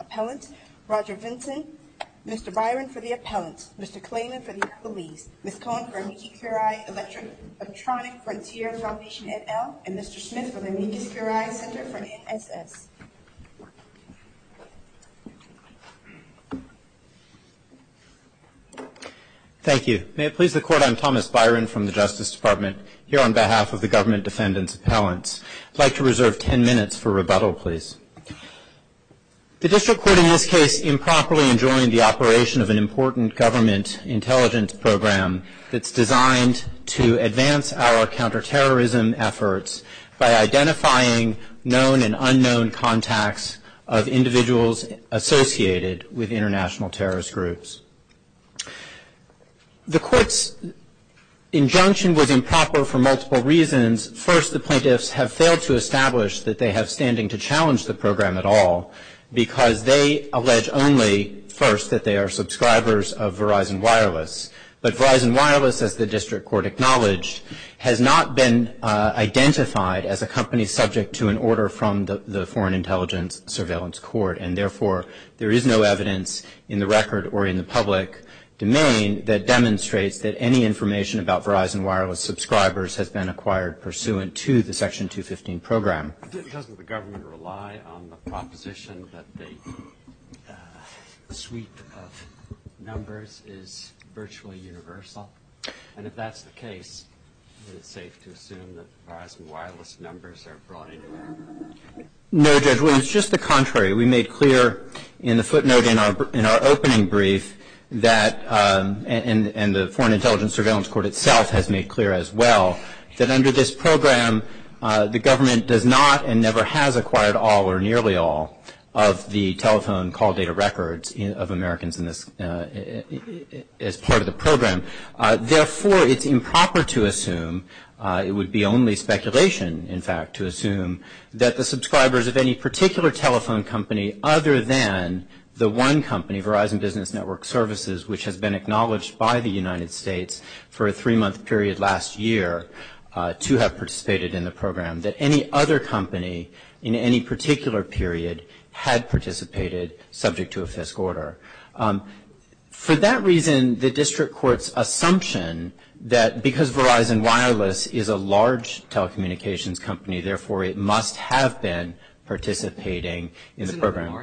Appellants, Roger Vinson, Mr. Byron for the Appellants, Mr. Klayman for the Appellants, Ms. Cohen for the Amici PRI Electronics Frontier Foundation, and Mr. Smith for the Amici PRI Center. Thank you. May it please the Court, I'm Thomas Byron from the Justice Department here on behalf of the government defendants appellants. I'd like to reserve ten minutes for rebuttal, please. The district court in this case improperly enjoined the operation of an important government intelligence program that's designed to identify known and unknown contacts of individuals associated with international terrorist groups. The court's injunction was improper for multiple reasons. First, the plaintiffs have failed to establish that they have standing to challenge the program at all, because they allege only, first, that they are subscribers of Verizon Wireless. But Verizon Wireless, as the intelligence surveillance court, and therefore there is no evidence in the record or in the public domain that demonstrates that any information about Verizon Wireless subscribers has been acquired pursuant to the Section 215 program. Doesn't the government rely on the proposition that the suite of numbers is virtually universal? And if that's the case, is it safe to No, Judge, it's just the contrary. We made clear in the footnote in our opening brief that, and the Foreign Intelligence Surveillance Court itself has made clear as well, that under this program, the government does not and never has acquired all or nearly all of the telephone call data records of Americans as part of the program. Therefore, it's improper to assume, it would be only speculation, in fact, to assume that the subscribers of any particular telephone company other than the one company, Verizon Business Network Services, which has been acknowledged by the United States for a three-month period last year to have participated in the program, that any other company in any particular period had participated subject to a FISC order. For that reason, the district court's assumption that because Verizon Wireless is a large telecommunications company, therefore, it must have been participating in the program. Is it the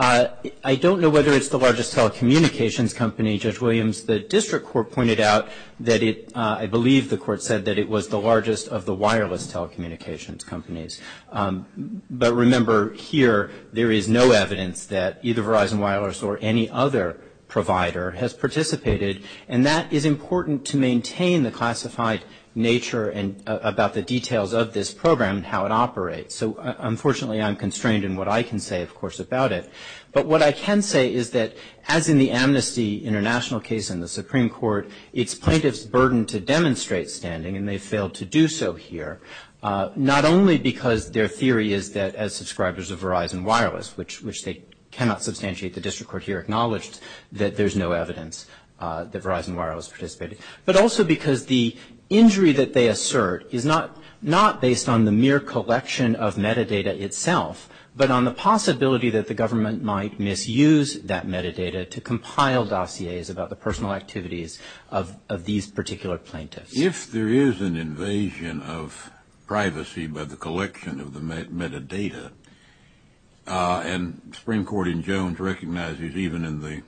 largest? I don't know whether it's the largest telecommunications company. Judge Williams, the district court pointed out that it, I believe the court said that it was the largest of the wireless telecommunications companies. But remember, here, there is no evidence that either Verizon Wireless or any other provider has participated. And that is important to maintain the classified nature about the details of this program and how it operates. So, unfortunately, I'm constrained in what I can say, of course, about it. But what I can say is that, as in the Amnesty International case in the Supreme Court, it's plaintiffs' burden to demonstrate standing, and they failed to do so here, not only because their theory is that as subscribers of Verizon Wireless, which they cannot substantiate, the district court here acknowledged that there's no evidence that Verizon Wireless participated. But also because the injury that they assert is not based on the mere collection of metadata itself, but on the possibility that the government might misuse that metadata to compile dossiers about the personal activities of these particular plaintiffs. If there is an invasion of privacy by the collection of the metadata, and Supreme Court in Jones recognizes, even in the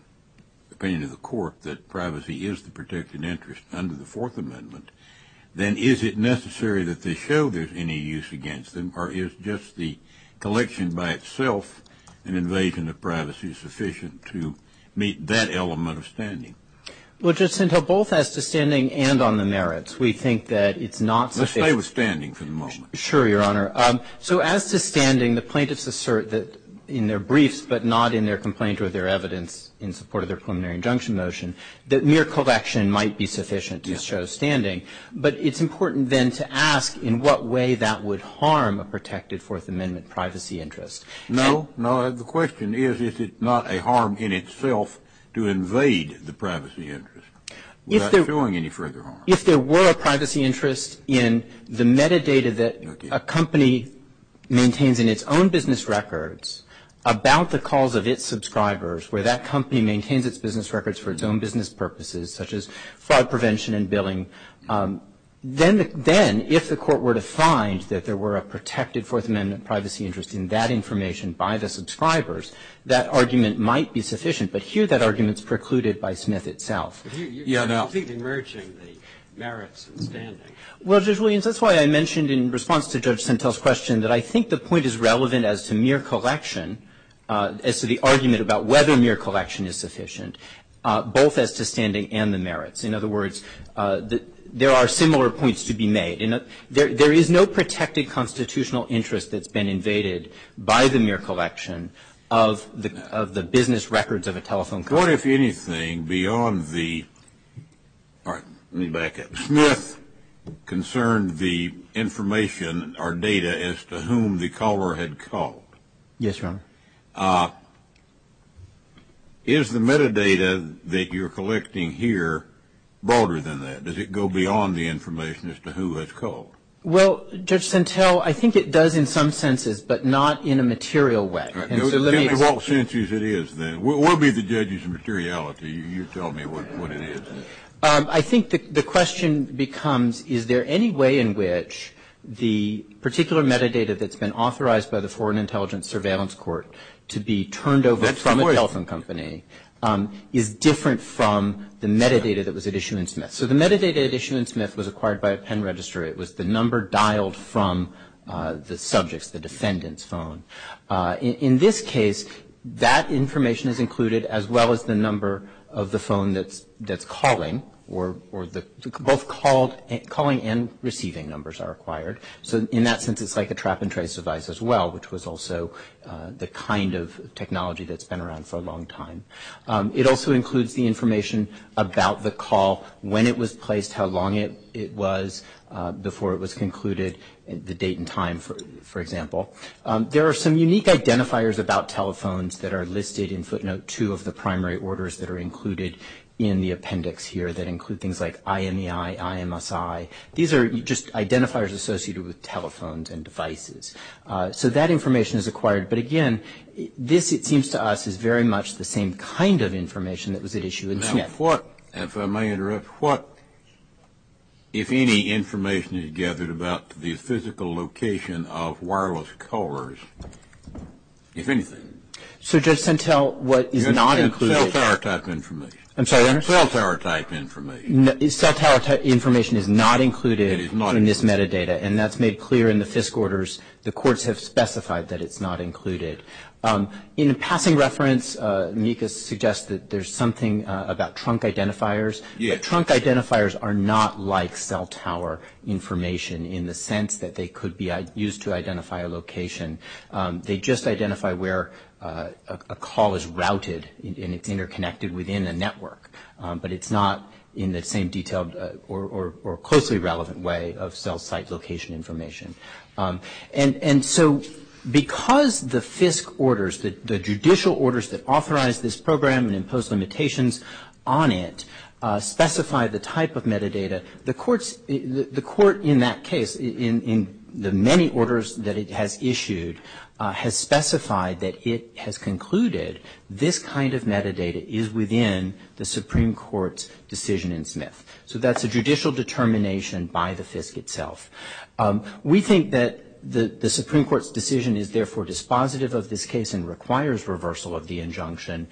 opinion of the court, that privacy is the protected interest under the Fourth Amendment, then is it necessary that they show there's any use against them, or is just the collection by itself an invasion of privacy sufficient to meet that element of standing? Well, just until both as to standing and on the merits, we think that it's not... Let's stay with standing for the moment. Sure, Your Honor. So as to standing, the plaintiffs assert that in their briefs, but not in their complaint or their evidence in support of their preliminary injunction motion, that mere collection might be sufficient to show standing. But it's important, then, to ask in what way that would harm a protected Fourth Amendment privacy interest. No, no. The question is if it's not a harm in itself to invade the privacy interest without showing any further harm. If there were a privacy interest in the metadata that a company maintains in its own business records about the calls of its subscribers, where that company maintains its business records for its own business purposes, such as fraud prevention and billing, then if the court were to find that there were a protected Fourth Amendment privacy interest in that information by the subscribers, that argument might be sufficient. But here that argument is precluded by Smith itself. You're completely merging the merits and standing. Well, Judge Williams, that's why I mentioned in response to Judge Sentel's question that I think the point is relevant as to mere collection, as to the argument about whether mere collection is sufficient, both as to standing and the merits. In other words, there are similar points to be made. There is no protected constitutional interest that's been invaded by the mere collection of the business records of a telephone company. What, if anything, beyond the – all right, let me back up. Smith concerned the information or data as to whom the caller had called. Yes, Your Honor. Your Honor, is the metadata that you're collecting here broader than that? Does it go beyond the information as to who has called? Well, Judge Sentel, I think it does in some senses, but not in a material way. All senses it is, then. We'll be the judges of materiality. You tell me what it is. I think the question becomes, is there any way in which the particular metadata that's been authorized by the Foreign Intelligence Surveillance Court to be turned over from a telephone company is different from the metadata that was at issue in Smith? So the metadata at issue in Smith was acquired by a pen registry. It was the number dialed from the subject's, the defendant's, phone. In this case, that information is included as well as the number of the phone that's calling, or both calling and receiving numbers are acquired. So in that sense, it's like a trap and trace device as well, which was also the kind of technology that's been around for a long time. It also includes the information about the call, when it was placed, how long it was before it was concluded, the date and time, for example. There are some unique identifiers about telephones that are listed in footnote 2 of the primary orders that are included in the appendix here that include things like IMEI, IMSI. These are just identifiers associated with telephones and devices. So that information is acquired. But, again, this, it seems to us, is very much the same kind of information that was at issue in Smith. If I may interrupt, what, if any, information is gathered about the physical location of wireless callers, if anything? So just until what is not included. Cell tower type information. I'm sorry, what? Cell tower type information. Cell tower type information is not included in this metadata, and that's made clear in the FISC orders. The courts have specified that it's not included. In passing reference, Mika suggests that there's something about trunk identifiers. Trunk identifiers are not like cell tower information in the sense that they could be used to identify a location. They just identify where a call is routed and it's interconnected within a network. But it's not in the same detailed or closely relevant way of cell site location information. And so because the FISC orders, the judicial orders that authorize this program and impose limitations on it, specify the type of metadata, the court in that case, in the many orders that it has issued, has specified that it has concluded this kind of metadata is within the Supreme Court's decision in Smith. So that's a judicial determination by the FISC itself. We think that the Supreme Court's decision is therefore dispositive of this case and requires reversal of the injunction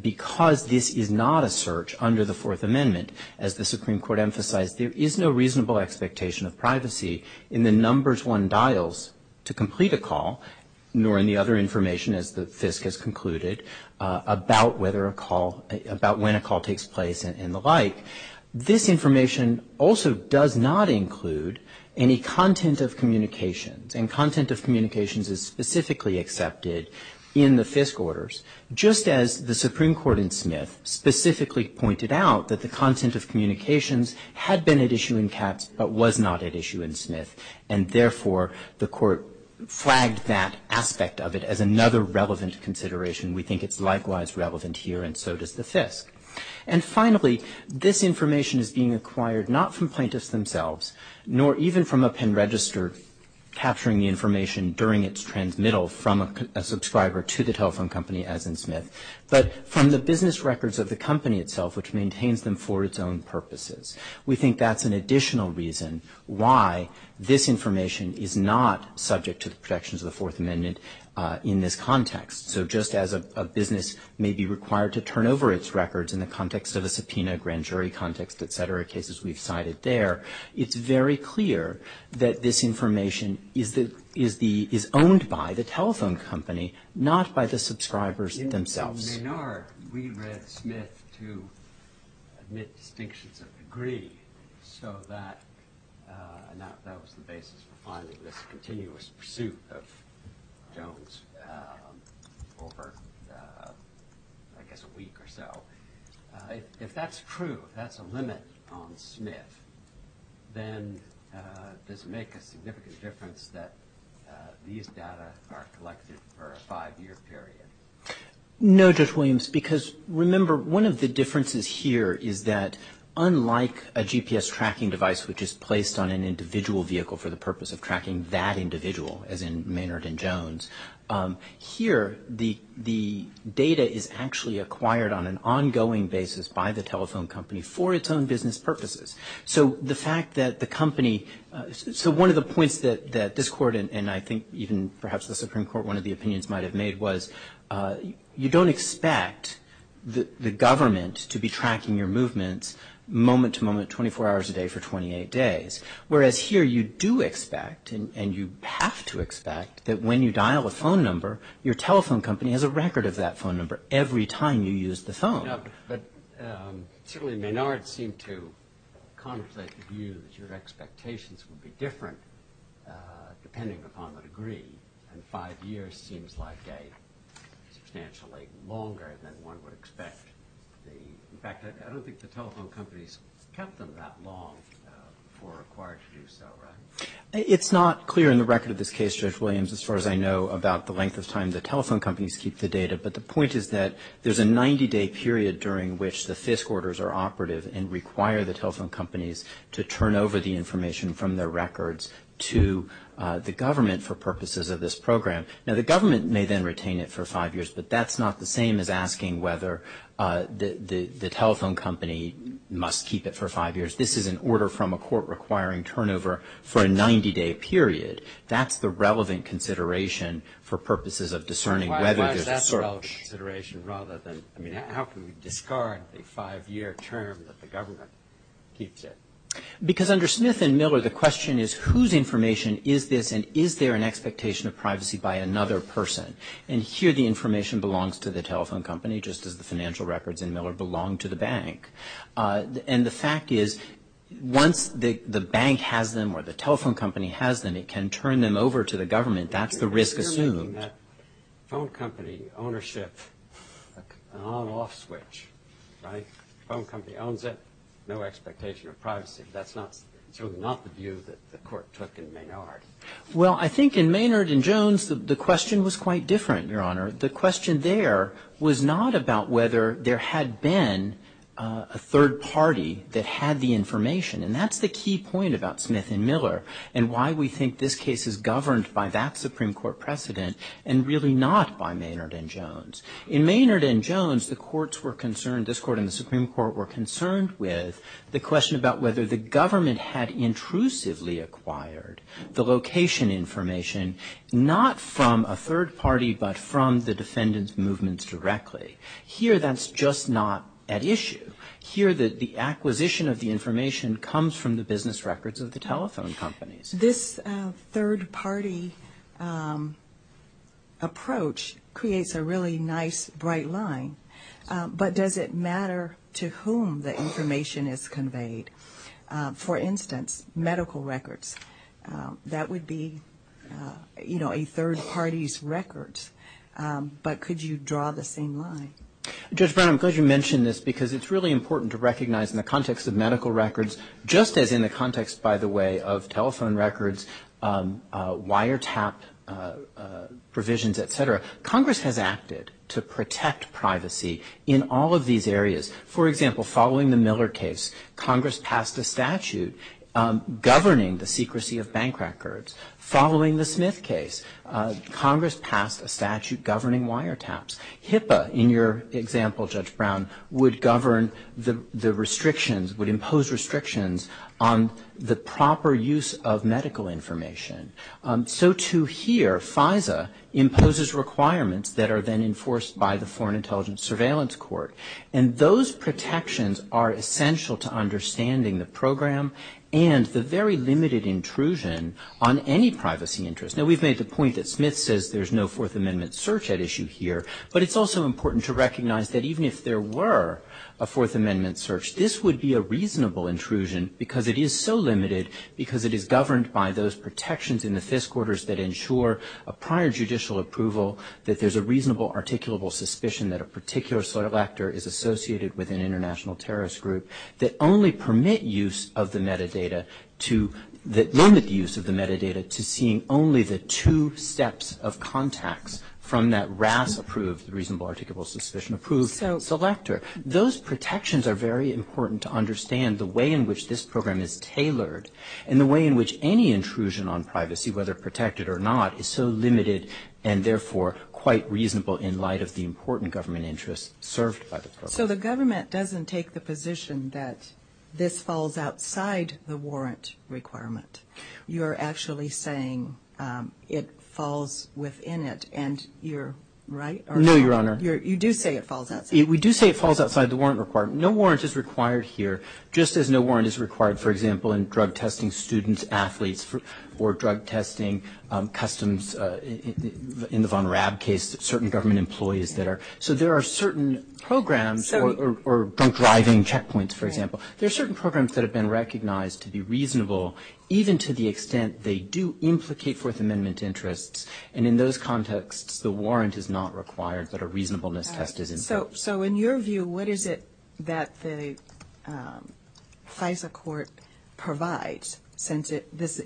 because this is not a search under the Fourth Amendment. As the Supreme Court emphasized, there is no reasonable expectation of privacy in the numbers one dials to complete a call, nor in the other information as the FISC has concluded about when a call takes place and the like. This information also does not include any content of communications and content of communications is specifically accepted in the FISC orders. Just as the Supreme Court in Smith specifically pointed out that the content of communications had been at issue in Katz but was not at issue in Smith and therefore the court flagged that aspect of it as another relevant consideration. We think it's likewise relevant here and so does the FISC. And finally, this information is being acquired not from plaintiffs themselves nor even from a pen register capturing the information during its transmittal from a subscriber to the telephone company as in Smith, but from the business records of the company itself which maintains them for its own purposes. We think that's an additional reason why this information is not subject to the protections of the Fourth Amendment in this context. So just as a business may be required to turn over its records in the context of a subpoena, grand jury context, et cetera, cases we've cited there, it's very clear that this information is owned by the telephone company not by the subscribers themselves. In Maynard, we read Smith to admit distinctions of degree, so that was the basis for finding this continuous pursuit of Jones over I guess a week or so. If that's true, if that's a limit on Smith, then does it make a significant difference that these data are collected for a five-year period? No, Judge Williams, because remember one of the differences here is that unlike a GPS tracking device which is placed on an individual vehicle for the purpose of tracking that individual as in Maynard and Jones, here the data is actually acquired on an ongoing basis by the telephone company for its own business purposes. So one of the points that this court and I think even perhaps the Supreme Court, one of the opinions might have made was you don't expect the government to be tracking your movements moment to moment 24 hours a day for 28 days, whereas here you do expect and you have to expect that when you dial a phone number, your telephone company has a record of that phone number every time you use the phone. But certainly Maynard seemed to contemplate the view that your expectations would be different depending upon the degree and five years seems like substantially longer than one would expect. In fact, I don't think the telephone companies kept them that long for required to do so, right? It's not clear in the record of this case, Judge Williams, as far as I know, about the length of time the telephone companies keep the data, but the point is that there's a 90-day period during which the FISC orders are operative and require the telephone companies to turn over the information from their records to the government for purposes of this program. Now, the government may then retain it for five years, but that's not the same as asking whether the telephone company must keep it for five years. This is an order from a court requiring turnover for a 90-day period. That's the relevant consideration for purposes of discerning whether there's a sort of consideration rather than, I mean, how can we discard a five-year term that the government keeps it? Because under Smith and Miller, the question is whose information is this and is there an expectation of privacy by another person? And here the information belongs to the telephone company just as the financial records in Miller belong to the bank. And the fact is once the bank has them or the telephone company has them, it can turn them over to the government. That's the risk assumed. Phone company ownership, an on-off switch, right? Phone company owns it, no expectation of privacy. That's not the view that the court took in Maynard. Well, I think in Maynard and Jones, the question was quite different, Your Honor. The question there was not about whether there had been a third party that had the information. And that's the key point about Smith and Miller and why we think this case is governed by that Supreme Court precedent and really not by Maynard and Jones. In Maynard and Jones, the courts were concerned, this court and the Supreme Court, were concerned with the question about whether the government had intrusively acquired the location information, not from a third party but from the defendant's movements directly. Here that's just not at issue. Here the acquisition of the information comes from the business records of the telephone companies. This third party approach creates a really nice, bright line. But does it matter to whom the information is conveyed? For instance, medical records, that would be, you know, a third party's records. But could you draw the same line? Judge Brown, I'm glad you mentioned this because it's really important to recognize in the context of medical records, just as in the context, by the way, of telephone records, wiretap provisions, et cetera, Congress has acted to protect privacy in all of these areas. For example, following the Miller case, Congress passed a statute governing the secrecy of bank records. Following the Smith case, Congress passed a statute governing wiretaps. HIPAA, in your example, Judge Brown, would govern the restrictions, would impose restrictions on the proper use of medical information. So too here, FISA imposes requirements that are then enforced by the Foreign Intelligence Surveillance Court. And those protections are essential to understanding the program and the very limited intrusion on any privacy interest. Now, we've made the point that Smith says there's no Fourth Amendment search at issue here, but it's also important to recognize that even if there were a Fourth Amendment search, this would be a reasonable intrusion because it is so limited because it is governed by those protections in the FISC orders that ensure a prior judicial approval, that there's a reasonable articulable suspicion that a particular selector is associated with an international terrorist group that only permit use of the metadata to, that limit the use of the metadata to seeing only the two steps of contacts from that RAS-approved, reasonable articulable suspicion-approved selector. Those protections are very important to understand the way in which this program is tailored and the way in which any intrusion on privacy, whether protected or not, is so limited and therefore quite reasonable in light of the important government interest served by the program. So the government doesn't take the position that this falls outside the warrant requirement. You're actually saying it falls within it, and you're right? No, Your Honor. You do say it falls outside. We do say it falls outside the warrant requirement. No warrant is required here, just as no warrant is required, for example, in drug testing students, athletes, or drug testing, customs, in the Von Raab case, certain government employees that are- so there are certain programs, or drug driving checkpoints, for example, there are certain programs that have been recognized to be reasonable, even to the extent they do implicate Fourth Amendment interests, and in those contexts the warrant is not required but a reasonableness tested interest. So in your view, what is it that the FISA court provides, since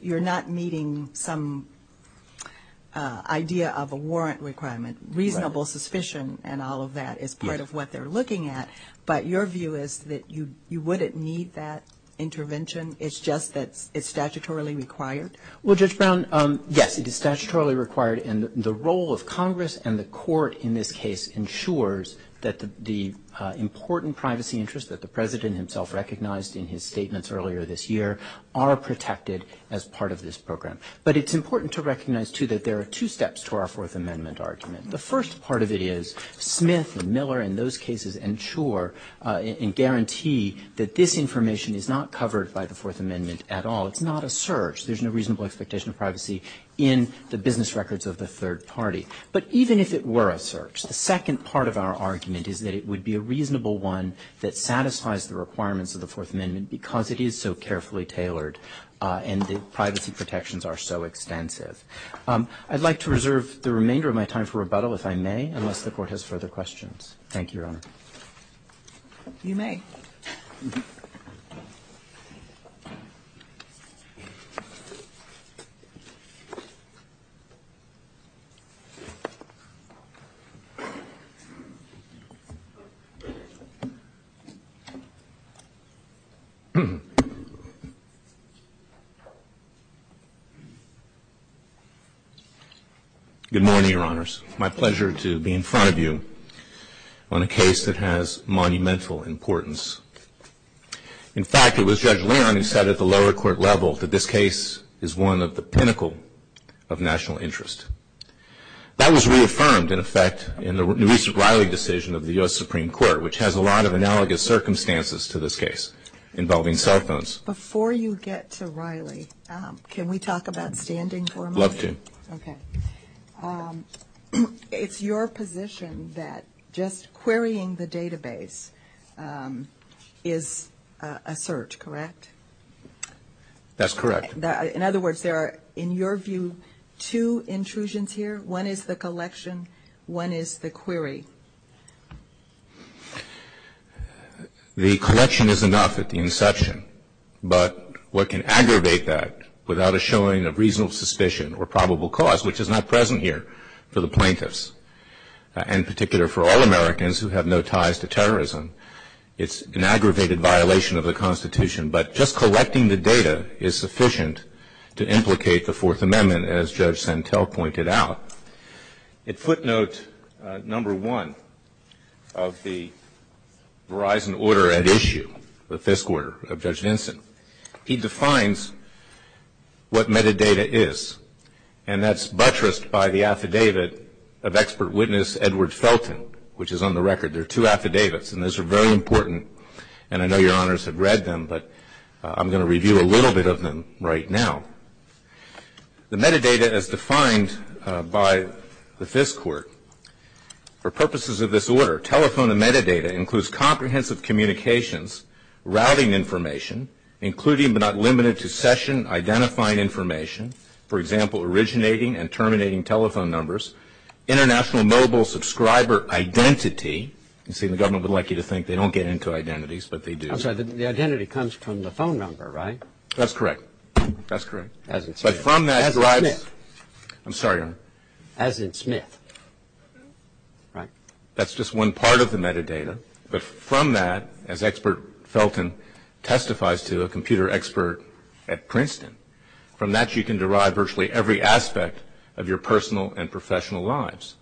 you're not meeting some idea of a warrant requirement, reasonable suspicion and all of that is part of what they're looking at, but your view is that you wouldn't need that intervention, it's just that it's statutorily required? Well, Judge Brown, yes, it is statutorily required, and the role of Congress and the court in this case ensures that the important privacy interests that the President himself recognized in his statements earlier this year are protected as part of this program. But it's important to recognize, too, that there are two steps to our Fourth Amendment argument. The first part of it is Smith and Miller, in those cases, ensure and guarantee that this information is not covered by the Fourth Amendment at all. It's not a search. There's no reasonable expectation of privacy in the business records of the third party. But even if it were a search, the second part of our argument is that it would be a reasonable one that satisfies the requirements of the Fourth Amendment because it is so carefully tailored and the privacy protections are so expensive. I'd like to reserve the remainder of my time for rebuttal, if I may, unless the Court has further questions. Thank you, Your Honor. You may. Good morning, Your Honors. My pleasure to be in front of you on a case that has monumental importance. In fact, it was Judge Laramie who said at the lower court level that this case is one of the pinnacle of national interest. That was reaffirmed, in effect, in the recent Riley decision of the U.S. Supreme Court, which has a lot of analogous circumstances to this case involving cell phones. Before you get to Riley, can we talk about standing for a moment? I'd love to. Okay. It's your position that just querying the database is a search, correct? That's correct. In other words, there are, in your view, two intrusions here. One is the collection. One is the query. The collection is enough at the inception, but what can aggravate that without a showing of reasonable suspicion or probable cause, which is not present here for the plaintiffs, and in particular for all Americans who have no ties to terrorism, it's an aggravated violation of the Constitution. But just collecting the data is sufficient to implicate the Fourth Amendment, as Judge Santel pointed out. At footnote number one of the Verizon order at issue, the fifth quarter of Judge Vinson, he defines what metadata is, and that's buttressed by the affidavit of expert witness Edward Felton, which is on the record. There are two affidavits, and those are very important, and I know your honors have read them, but I'm going to review a little bit of them right now. The metadata as defined by the fifth court, for purposes of this order, telephone and metadata includes comprehensive communications, routing information, including but not limited to session identifying information, for example, originating and terminating telephone numbers, international mobile subscriber identity. You can see the government would like you to think they don't get into identities, but they do. I'm sorry. The identity comes from the phone number, right? That's correct. That's correct. As in Smith. I'm sorry, Your Honor. As in Smith. That's just one part of the metadata. But from that, as expert Felton testifies to, a computer expert at Princeton, from that you can derive virtually every aspect of your personal and professional lives,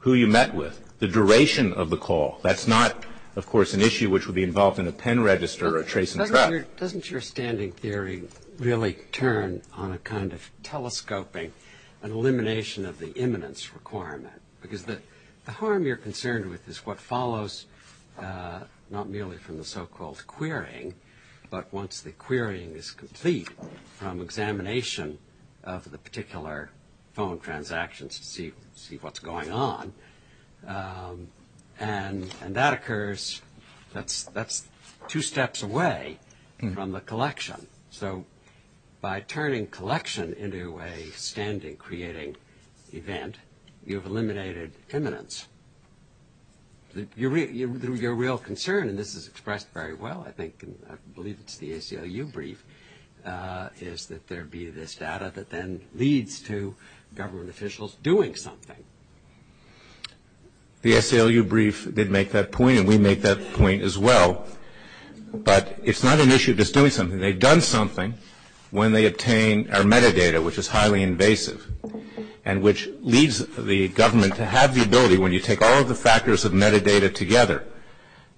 who you met with, the duration of the call. That's not, of course, an issue which would be involved in a pen register or a trace and track. Doesn't your standing theory really turn on a kind of telescoping, an elimination of the imminence requirement? Because the harm you're concerned with is what follows not merely from the so-called querying, but once the querying is complete from examination of the particular phone transactions to see what's going on. And that occurs, that's two steps away from the collection. So by turning collection into a standing creating event, you've eliminated imminence. Your real concern, and this is expressed very well, I think, and I believe it's the ACLU brief, is that there be this data that then leads to government officials doing something. The ACLU brief did make that point, and we make that point as well. But it's not an issue of just doing something. They've done something when they obtain our metadata, which is highly invasive, and which leads the government to have the ability, when you take all of the factors of metadata together,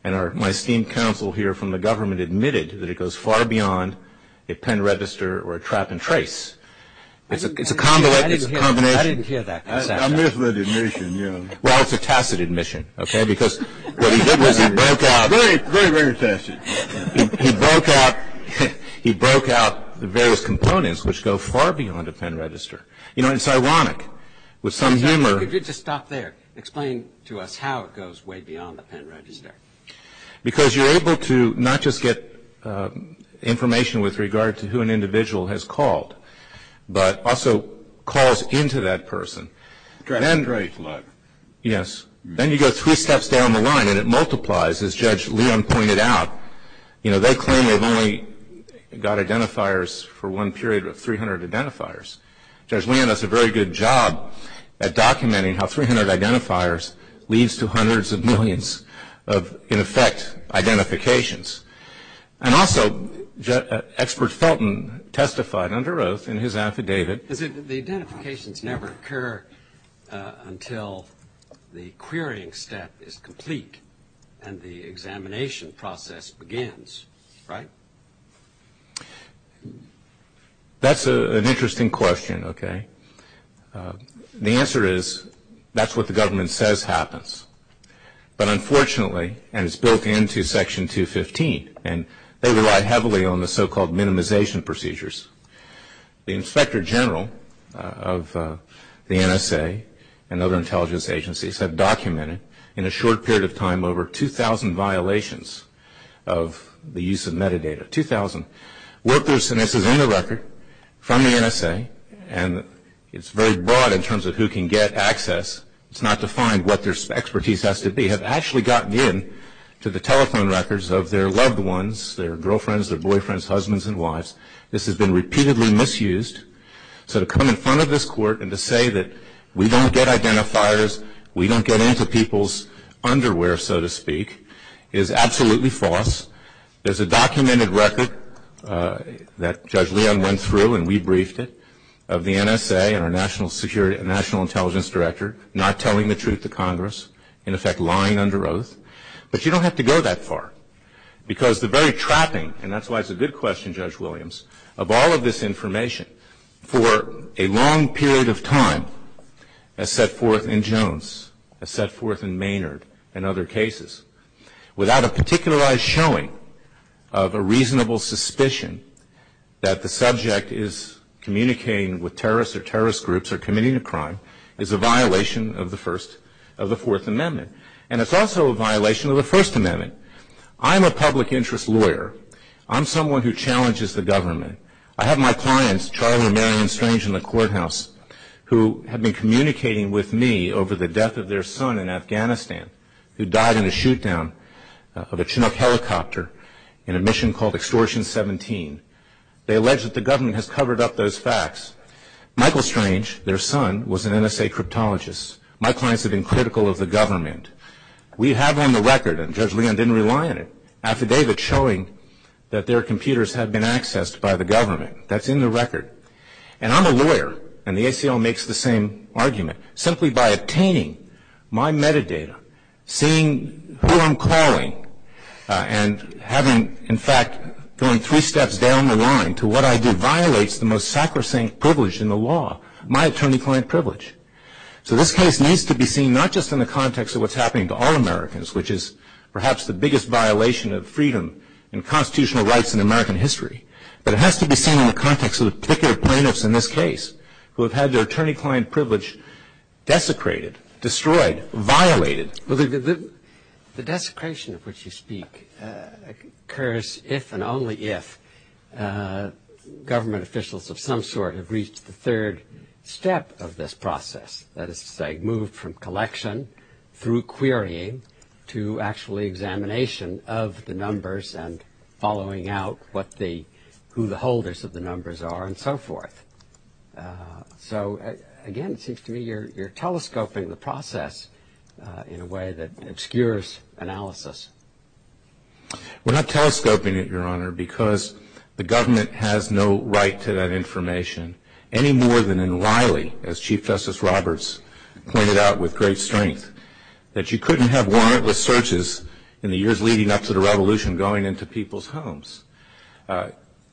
and my esteemed counsel here from the government admitted that it goes far beyond a pen register or a trap and trace. It's a combination. I didn't hear that. I missed the admission. Well, it's a tacit admission, okay, because what he did was he broke out. Very, very tacit. He broke out the various components, which go far beyond a pen register. You know, it's ironic. With some humor. Could you just stop there? Explain to us how it goes way beyond the pen register. Because you're able to not just get information with regard to who an individual has called, but also calls into that person. Then you go two steps down the line, and it multiplies. As Judge Leon pointed out, you know, they claim they've only got identifiers for one period of 300 identifiers. Judge Leon does a very good job at documenting how 300 identifiers leads to hundreds of millions of, in effect, identifications. And also, Expert Felton testified under oath in his affidavit. The identifications never occur until the querying step is complete and the examination process begins, right? That's an interesting question, okay. The answer is that's what the government says happens. But unfortunately, and it's broken into Section 215, and they rely heavily on the so-called minimization procedures, the Inspector General of the NSA and other intelligence agencies have documented, in a short period of time, over 2,000 violations of the use of metadata. 2,000 workers, and this is in the record, from the NSA, and it's very broad in terms of who can get access. It's not defined what their expertise has to be, have actually gotten in to the telephone records of their loved ones, their girlfriends, their boyfriends, husbands, and wives. This has been repeatedly misused. So to come in front of this court and to say that we don't get identifiers, we don't get in to people's underwear, so to speak, is absolutely false. There's a documented record that Judge Leon went through, and we briefed it, of the NSA and our National Intelligence Director not telling the truth to Congress, in effect, lying under oath. But you don't have to go that far, because the very trapping, and that's why it's a good question, Judge Williams, of all of this information, for a long period of time, as set forth in Jones, as set forth in Maynard, and other cases, without a particularized showing of a reasonable suspicion that the subject is communicating with terrorists or terrorist groups or committing a crime, is a violation of the First, of the Fourth Amendment. And it's also a violation of the First Amendment. I'm a public interest lawyer. I'm someone who challenges the government. I have my clients, Charlie and Marion Strange in the courthouse, who have been communicating with me over the death of their son in Afghanistan, who died in a shoot-down of a Chinook helicopter in a mission called Extortion 17. They allege that the government has covered up those facts. Michael Strange, their son, was an NSA cryptologist. My clients have been critical of the government. We have on the record, and Judge Leon didn't rely on it, affidavits showing that their computers have been accessed by the government. That's in the record. And I'm a lawyer, and the ACL makes the same argument. Simply by obtaining my metadata, seeing who I'm calling, and having, in fact, going three steps down the line to what I do violates the most sacrosanct privilege in the law, my attorney-client privilege. So this case needs to be seen not just in the context of what's happening to all Americans, which is perhaps the biggest violation of freedom and constitutional rights in American history, but it has to be seen in the context of the particular plaintiffs in this case, who have had their attorney-client privilege desecrated, destroyed, violated. The desecration of which you speak occurs if and only if government officials of some sort have reached the third step of this process, that is to say moved from collection through querying to actually examination of the numbers and following out who the holders of the numbers are and so forth. So, again, it seems to me you're telescoping the process in a way that obscures analysis. We're not telescoping it, Your Honor, because the government has no right to that information, any more than in Wiley, as Chief Justice Roberts pointed out with great strength, that you couldn't have wireless searches in the years leading up to the Revolution going into people's homes.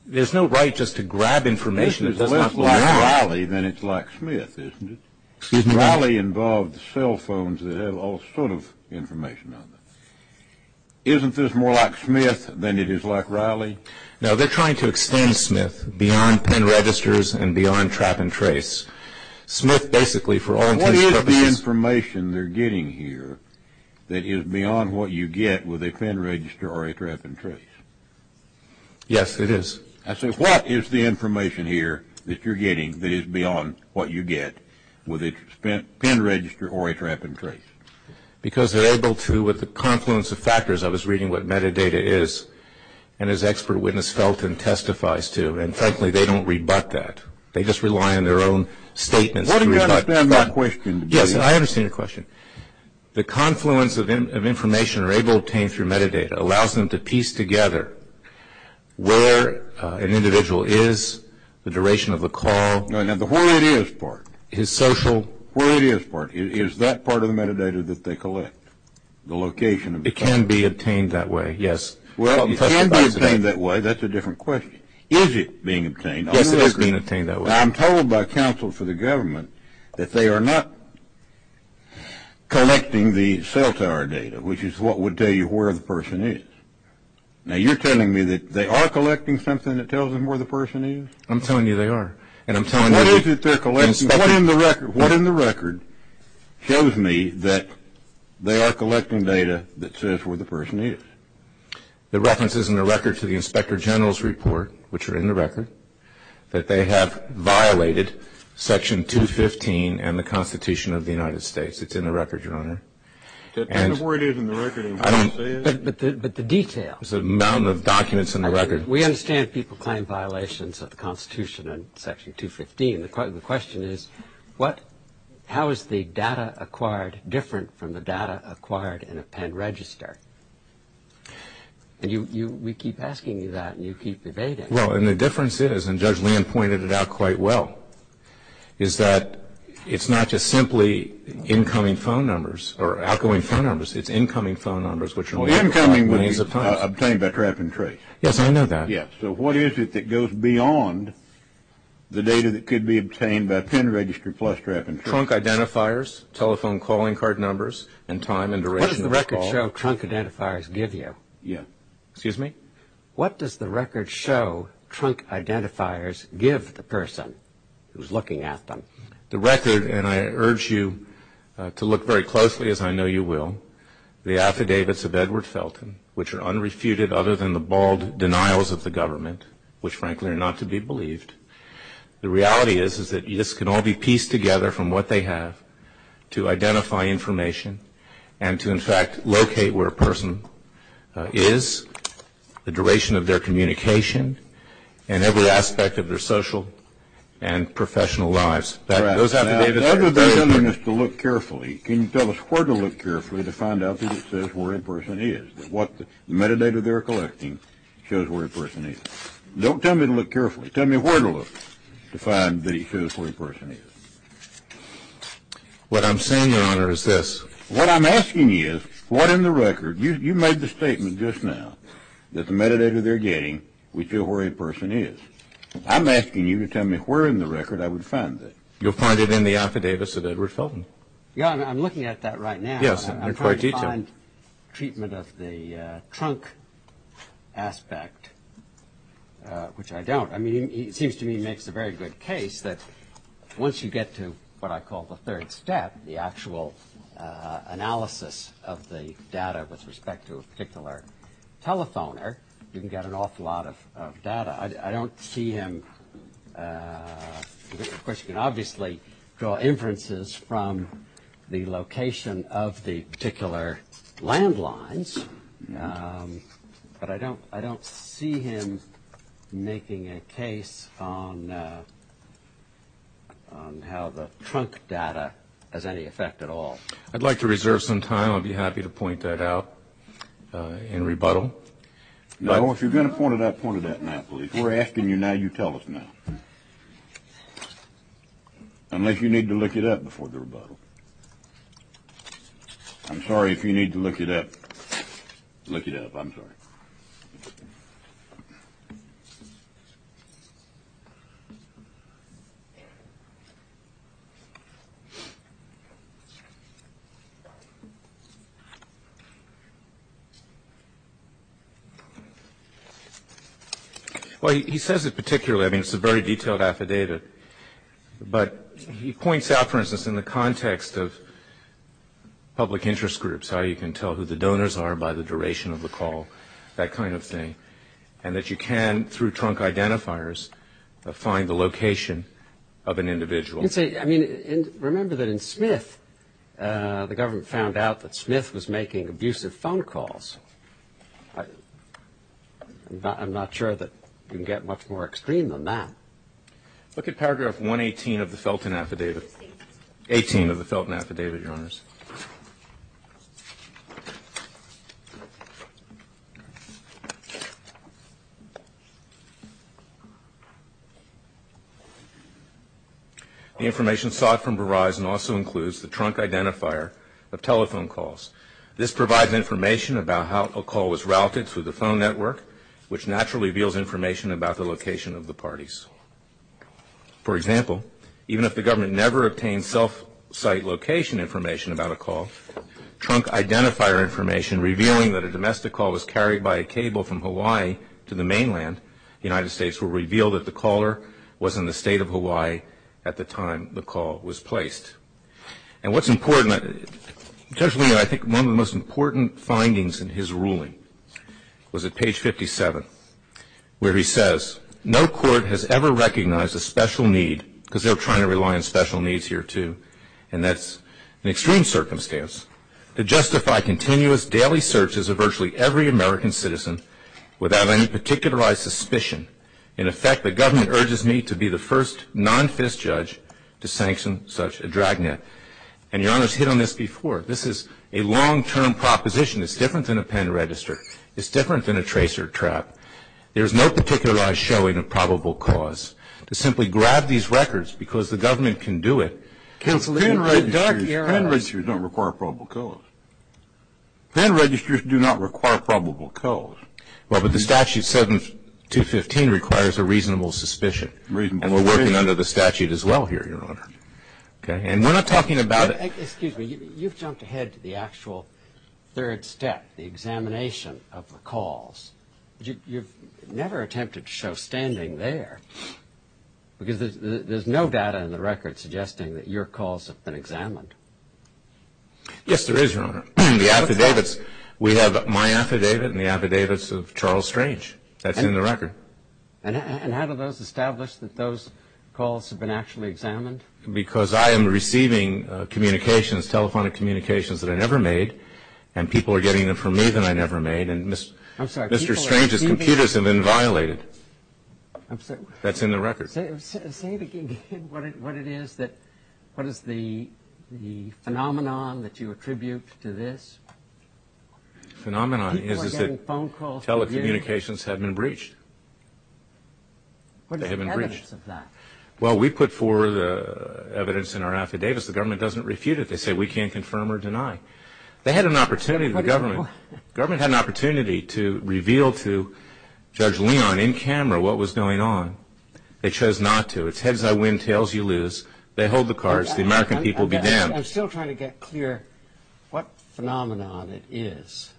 There's no right just to grab information that doesn't have to be there. If it's like Wiley, then it's like Smith, isn't it? Excuse me, Your Honor. Wiley involved cell phones that have all sorts of information on them. Isn't this more like Smith than it is like Wiley? No, they're trying to explain Smith beyond PIN registers and beyond trap and trace. Smith basically, for all intents and purposes... What is the information they're getting here that is beyond what you get with a PIN register or a trap and trace? Yes, it is. I said, what is the information here that you're getting that is beyond what you get with a PIN register or a trap and trace? Because they're able to, with the confluence of factors, I was reading what metadata is, and as expert witness Felton testifies to, and frankly, they don't rebut that. They just rely on their own statements to rebut that. I don't understand my question. Yes, I understand your question. The confluence of information they're able to obtain through metadata allows them to piece together where an individual is, the duration of a call... No, no, but where it is part. His social... Where it is part. Is that part of the metadata that they collect, the location of the person? It can be obtained that way, yes. Well, it can be obtained that way. That's a different question. Is it being obtained? I think it's being obtained that way. I'm told by counsel for the government that they are not collecting the cell tower data, which is what would tell you where the person is. Now, you're telling me that they are collecting something that tells them where the person is? I'm telling you they are. And I'm telling you... What is it they're collecting? What in the record shows me that they are collecting data that says where the person is? The references in the record to the Inspector General's report, which are in the record, that they have violated Section 215 and the Constitution of the United States. It's in the record, Your Honor. That's where it is in the record. But the detail... It's the amount of documents in the record. We understand people claim violations of the Constitution in Section 215. The question is, how is the data acquired different from the data acquired in a pen register? We keep asking you that, and you keep debating. Well, and the difference is, and Judge Land pointed it out quite well, is that it's not just simply incoming phone numbers or outgoing phone numbers. It's incoming phone numbers, which are... Well, incoming would be obtained by track and trace. Yes, I know that. Yes. So what is it that goes beyond the data that could be obtained by a pen register plus track and trace? Trunk identifiers, telephone calling card numbers, and time and direction of the call. What does the record show trunk identifiers give you? Yes. Excuse me? What does the record show trunk identifiers give the person who's looking at them? The record, and I urge you to look very closely, as I know you will, the affidavits of Edward Felton, which are unrefuted other than the bald denials of the government, which, frankly, are not to be believed. The reality is that this can all be pieced together from what they have to identify information and to, in fact, locate where a person is, the duration of their communication, and every aspect of their social and professional lives. Those affidavits... All right. Tell me to look carefully. Can you tell us where to look carefully to find out that it says where a person is, that what metadata they're collecting shows where a person is? Don't tell me to look carefully. Tell me where to look to find that it shows where a person is. What I'm saying, Your Honor, is this. What I'm asking you is, what in the record, you made the statement just now, that the metadata they're getting will show where a person is. I'm asking you to tell me where in the record I would find that. You'll find it in the affidavits of Edward Felton. Your Honor, I'm looking at that right now. Yes, I'm trying to find treatment of the trunk aspect, which I don't. I mean, it seems to me it makes a very good case that once you get to what I call the third step, the actual analysis of the data with respect to a particular telephoner, you can get an awful lot of data. I don't see him... Of course, you can obviously draw inferences from the location of the particular landlines, but I don't see him making a case on how the trunk data has any effect at all. I'd like to reserve some time. I'd be happy to point that out in rebuttal. No, if you're going to point it out, point it out now, please. We're asking you now. You tell us now. Unless you need to look it up before the rebuttal. I'm sorry if you need to look it up. Look it up. I'm sorry. Well, he says it particularly. I mean, it's a very detailed affidavit. But he points out, for instance, in the context of public interest groups, how you can tell who the donors are by the duration of the call, that kind of thing, and that you can, through trunk identifiers, find the location of an individual. Remember that in Smith, the government found out that Smith was making abusive phone calls. I'm not sure that you can get much more extreme than that. Look at paragraph 118 of the Felton Affidavit. Eighteen of the Felton Affidavit, Your Honors. The information sought from Verizon also includes the trunk identifier of telephone calls. This provides information about how a call was routed through the phone network, which naturally reveals information about the location of the parties. For example, even if the government never obtained self-site location information about a call, trunk identifier information revealing that a domestic call was carried by a cable from Hawaii to the mainland, the United States will reveal that the caller was in the state of Hawaii at the time the call was placed. And what's important, Judge Leone, I think one of the most important findings in his ruling was at page 57, where he says, No court has ever recognized a special need, because they're trying to rely on special needs here too, and that's an extreme circumstance, to justify continuous daily searches of virtually every American citizen without any particularized suspicion. In effect, the government urges me to be the first non-FIS judge to sanction such a dragnet. And Your Honors hit on this before. This is a long-term proposition. It's different than a pen register. It's different than a tracer trap. There's no particularized showing of probable cause. To simply grab these records because the government can do it. Pen registries don't require probable cause. Pen registries do not require probable cause. Well, but the statute 7215 requires a reasonable suspicion. And we're working under the statute as well here, Your Honor. And we're not talking about... Excuse me. You've jumped ahead to the actual third step, the examination of the calls. You've never attempted to show standing there, because there's no data in the record suggesting that your calls have been examined. Yes, there is, Your Honor. We have my affidavit and the affidavits of Charles Strange. That's in the record. And how do those establish that those calls have been actually examined? Because I am receiving telephonic communications that I never made, and people are getting them from me that I never made. And Mr. Strange's computers have been violated. That's in the record. Say it again, what it is, what is the phenomenon that you attribute to this? The phenomenon is that telecommunications have been breached. What is the evidence of that? Well, we put forward the evidence in our affidavits. The government doesn't refute it. They say we can't confirm or deny. They had an opportunity, the government, the government had an opportunity to reveal to Judge Leon in camera what was going on. They chose not to. It's heads I win, tails you lose. They hold the cards. The American people be damned. I'm still trying to get clear what phenomenon it is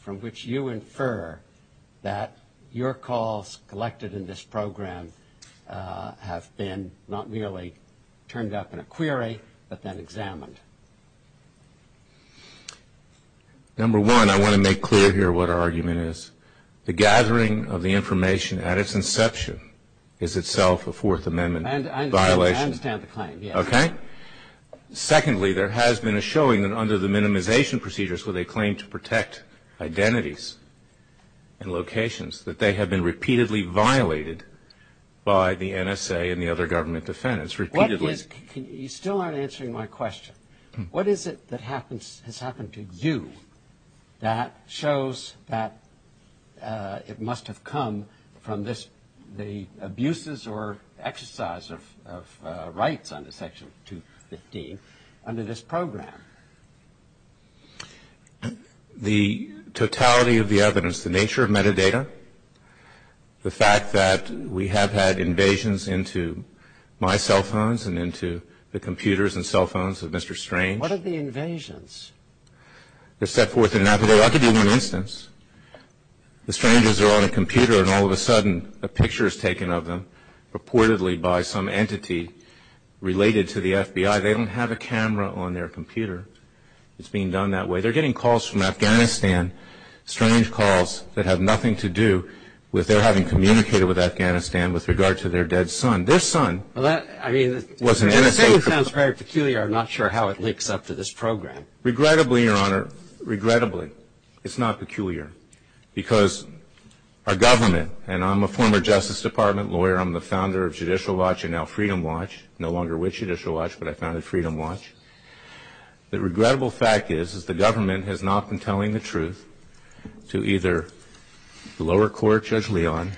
from which you infer that your calls collected in this program have been not merely turned up in a query but then examined. Number one, I want to make clear here what our argument is. The gathering of the information at its inception is itself a Fourth Amendment violation. I understand the claim. Okay. Secondly, there has been a showing that under the minimization procedure, so they claim to protect identities and locations, that they have been repeatedly violated by the NSA and the other government defendants, repeatedly. You still aren't answering my question. What is it that has happened to you that shows that it must have come from the abuses or exercise of rights under Section 215 under this program? The totality of the evidence, the nature of metadata, the fact that we have had invasions into my cell phones and into the computers and cell phones of Mr. Strange. What are the invasions? The set forth in Navajo. That could be one instance. The strangers are on a computer and all of a sudden a picture is taken of them purportedly by some entity related to the FBI. They don't have a camera on their computer. It's being done that way. They're getting calls from Afghanistan, strange calls that have nothing to do with their having communicated with Afghanistan with regard to their dead son. This son was an NSA agent. That sounds very peculiar. I'm not sure how it links up to this program. Regrettably, Your Honor, regrettably, it's not peculiar because our government, and I'm a former Justice Department lawyer, I'm the founder of Judicial Watch and now Freedom Watch, no longer with Judicial Watch but I founded Freedom Watch. The regrettable fact is that the government has not been telling the truth to either the lower court, Judge Leon,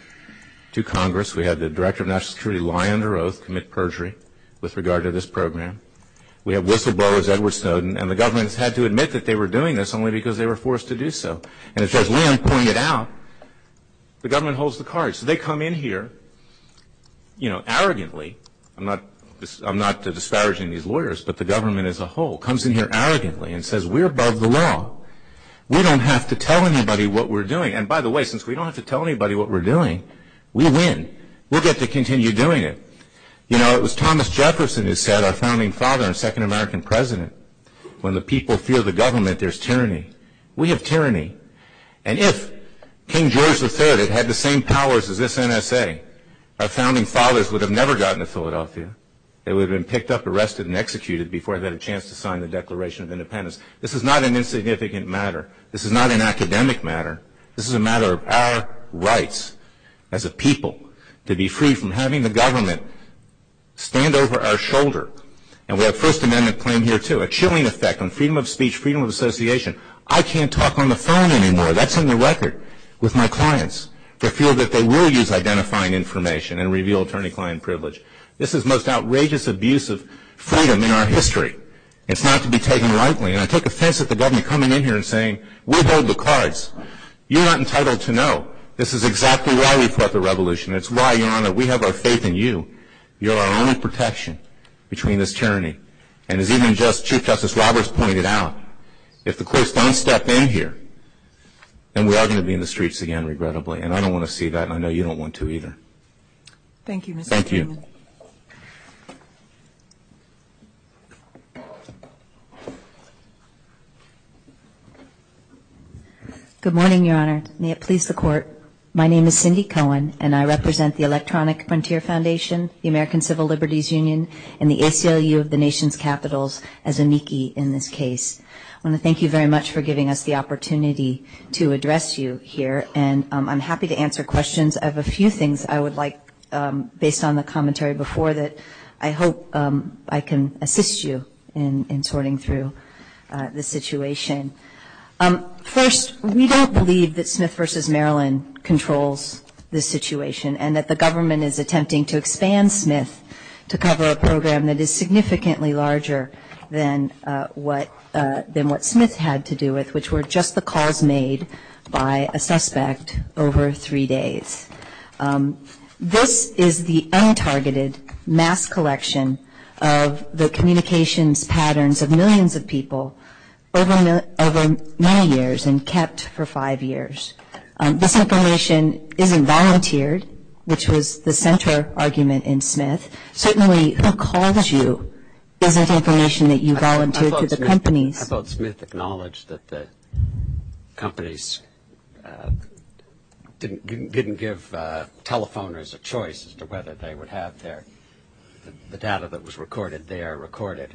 to Congress. We had the Director of National Security lie under oath, commit perjury with regard to this program. We have whistleblowers, Edward Snowden, and the government had to admit that they were doing this only because they were forced to do so. And as Judge Leon pointed out, the government holds the cards. They come in here arrogantly. I'm not disparaging these lawyers, but the government as a whole comes in here arrogantly and says we're above the law. We don't have to tell anybody what we're doing. And by the way, since we don't have to tell anybody what we're doing, we win. We'll get to continue doing it. You know, it was Thomas Jefferson who said, our founding father and second American president, when the people fear the government, there's tyranny. We have tyranny. And if King George III had had the same powers as this NSA, our founding fathers would have never gotten to Philadelphia. They would have been picked up, arrested, and executed before they had a chance to sign the Declaration of Independence. This is not an insignificant matter. This is not an academic matter. This is a matter of our rights as a people to be free from having the government stand over our shoulder. And we have a First Amendment claim here, too, a chilling effect on freedom of speech, freedom of association. I can't talk on the phone anymore. That's on the record with my clients to feel that they will use identifying information and reveal attorney-client privilege. This is the most outrageous abuse of freedom in our history. It's not to be taken lightly. And I took offense at the government coming in here and saying, we hold the cards. You're not entitled to know. This is exactly why we fought the revolution. It's why, Your Honor, we have our faith in you. You're our own protection between this tyranny. And as even Chief Justice Roberts pointed out, if the police don't step in here, then we are going to be in the streets again, regrettably. And I don't want to see that, and I know you don't want to either. Thank you, Mr. Cohen. Thank you. Good morning, Your Honor. May it please the Court, my name is Cindy Cohen, and I represent the Electronic Frontier Foundation, the American Civil Liberties Union, and the ACLU of the nation's capitals as a NICI in this case. I want to thank you very much for giving us the opportunity to address you here, and I'm happy to answer questions of a few things I would like, based on the commentary before that, I hope I can assist you in sorting through the situation. First, we don't believe that Smith v. Maryland controls this situation and that the government is attempting to expand Smith to cover a program that is significantly larger than what Smith had to do it, which were just the calls made by a suspect over three days. This is the untargeted mass collection of the communications patterns of millions of people over many years and kept for five years. This information isn't volunteered, which was the center argument in Smith. Certainly who calls you isn't information that you volunteer to the company. I thought Smith acknowledged that the companies didn't give telephoners a choice as to whether they would have the data that was recorded there recorded.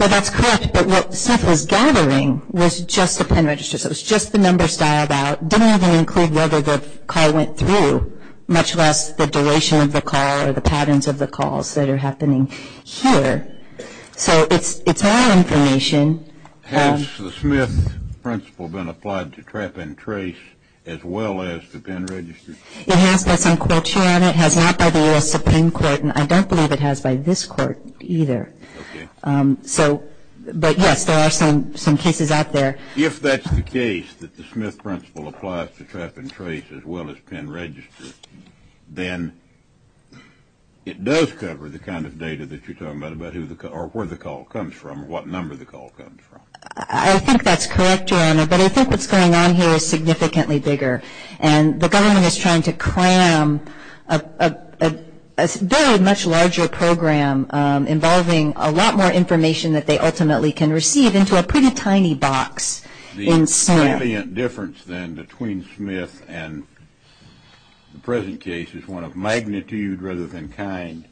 Well, that's correct, but what Smith was gathering was just the pen registers. It was just the numbers dialed out. It didn't even include whether the call went through, much less the duration of the call or the patterns of the calls that are happening here. So it's all information. Has the Smith principle been applied to Trap and Trace as well as the pen registers? It has, but some courts are on it. It has not by the U.S. Supreme Court, and I don't believe it has by this court either. Okay. So, but, yes, there are some cases out there. If that's the case, that the Smith principle applies to Trap and Trace as well as pen registers, then it does cover the kind of data that you're talking about or where the call comes from or what number the call comes from. I think that's correct, Your Honor, but I think what's going on here is significantly bigger, and the government is trying to cram a very much larger program involving a lot more information that they ultimately can receive into a pretty tiny box in Smith. The difference, then, between Smith and the present case is one of magnitude rather than kind.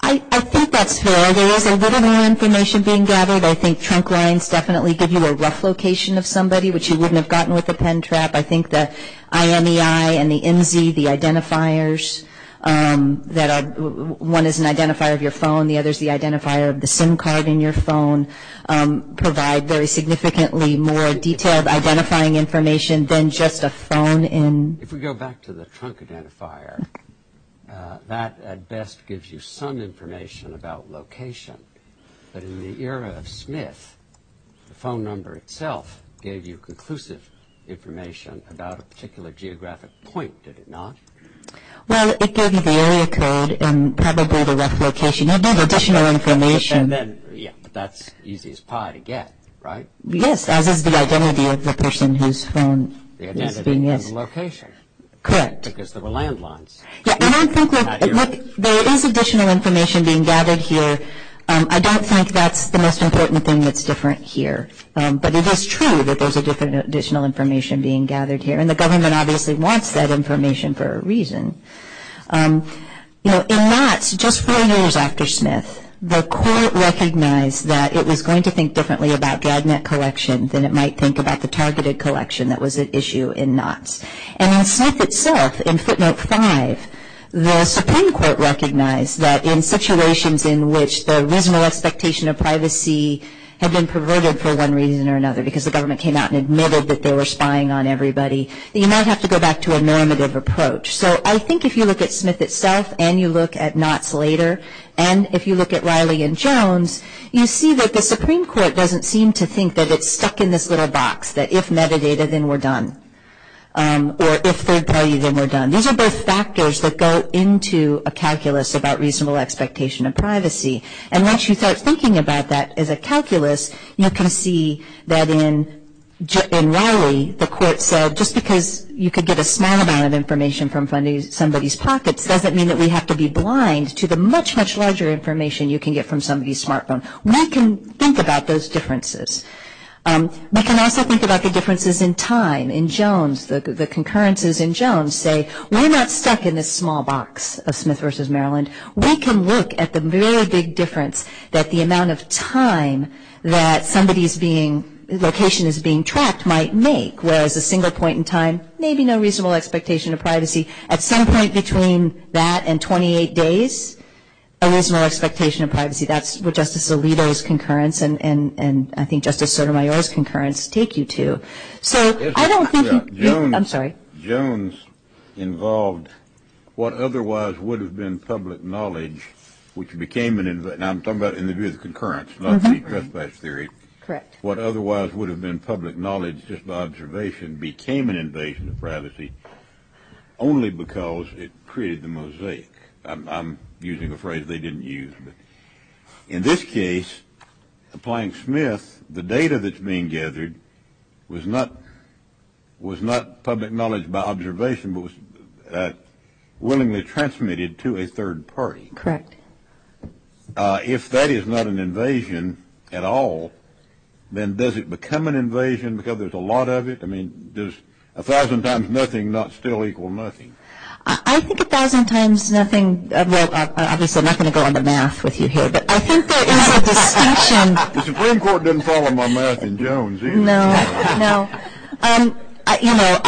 I think that's fair. There is a little more information being gathered. I think trunk lines definitely give you a rough location of somebody, which you wouldn't have gotten with a pen trap. I think the IMEI and the IMV, the identifiers, that one is an identifier of your phone, the other is the identifier of the SIM card in your phone, provide very significantly more detailed identifying information than just a phone in. If we go back to the trunk identifier, that, at best, gives you some information about location, but in the era of Smith, the phone number itself gave you conclusive information about a particular geographic point, did it not? Well, it gave you the area code and probably the rough location. It gave additional information. Yeah, that's the easiest pie to get, right? Yes, as is the identity of the person whose phone is being used. The identity of the location. Correct. Because there were landlines. Yeah, and I think there is additional information being gathered here. I don't think that's the most important thing that's different here, but it is true that there's additional information being gathered here, and the government obviously wants that information for a reason. You know, in Knox, just four years after Smith, the court recognized that it was going to think differently about gag net collections than it might think about the targeted collection that was at issue in Knox. And in Smith itself, in footnote 5, the Supreme Court recognized that in situations in which the original expectation of privacy had been perverted for one reason or another because the government came out and admitted that they were spying on everybody, that you might have to go back to a normative approach. So I think if you look at Smith itself and you look at Knox later, and if you look at Riley and Jones, you see that the Supreme Court doesn't seem to think that it's stuck in this little box, that if metadata, then we're done, or if third party, then we're done. These are both factors that go into a calculus about reasonable expectation of privacy. And once you start thinking about that as a calculus, you can see that in Riley, the court said just because you could get a small amount of information from somebody's pocket doesn't mean that we have to be blind to the much, much larger information you can get from somebody's smartphone. We can think about those differences. We can also think about the differences in time. In Jones, the concurrences in Jones say we're not stuck in this small box of Smith v. Maryland. We can look at the very big difference that the amount of time that somebody's location is being tracked might make, whereas a single point in time, maybe no reasonable expectation of privacy. At some point between that and 28 days, a reasonable expectation of privacy. That's where Justice Alito's concurrence and I think Justice Sotomayor's concurrence take you to. I'm sorry. Jones involved what otherwise would have been public knowledge, which became an invasion. I'm talking about in the view of the concurrence, not the trespass theory. What otherwise would have been public knowledge just by observation became an invasion of privacy only because it created the mosaic. I'm using a phrase they didn't use. In this case, applying Smith, the data that's being gathered was not public knowledge by observation, but was willingly transmitted to a third party. Correct. If that is not an invasion at all, then does it become an invasion because there's a lot of it? I mean, does a thousand times nothing not still equal nothing? I think a thousand times nothing, well, obviously I'm not going to go under math with you here, but I think there is a distinction. The Supreme Court didn't follow my math in Jones either. No, no. You know,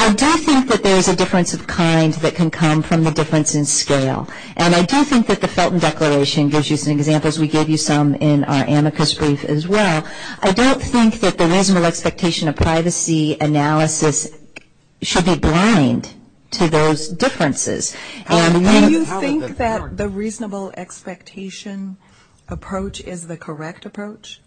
I do think that there is a difference of kind that can come from a difference in scale, and I do think that the Felton Declaration gives you some examples. We gave you some in our amicus brief as well. I don't think that the reasonable expectation of privacy analysis should be blind to those differences. Do you think that the reasonable expectation approach is the correct approach?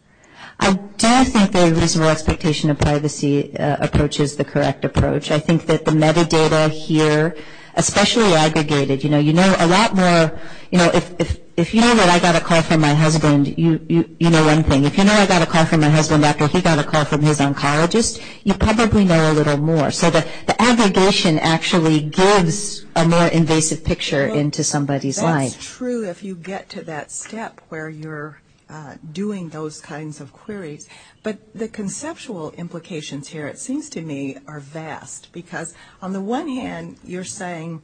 I do think the reasonable expectation of privacy approach is the correct approach. I think that the metadata here, especially aggregated, you know, you know a lot more. You know, if you know that I got a call from my husband, you know one thing. If you know I got a call from my husband, who got a call from his oncologist, you probably know a little more. So the aggregation actually gives a more invasive picture into somebody's life. That's true if you get to that step where you're doing those kinds of queries. But the conceptual implications here, it seems to me, are vast, because on the one hand you're saying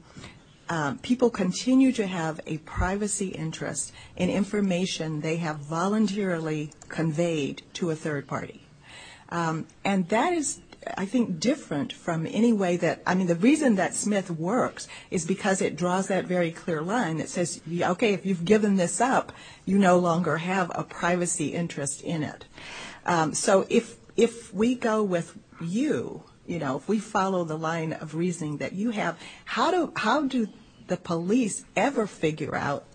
people continue to have a privacy interest in information they have voluntarily conveyed to a third party. And that is, I think, different from any way that, I mean the reason that Smith works is because it draws that very clear line. It says, okay, if you've given this up, you no longer have a privacy interest in it. So if we go with you, you know, if we follow the line of reasoning that you have, how do the police ever figure out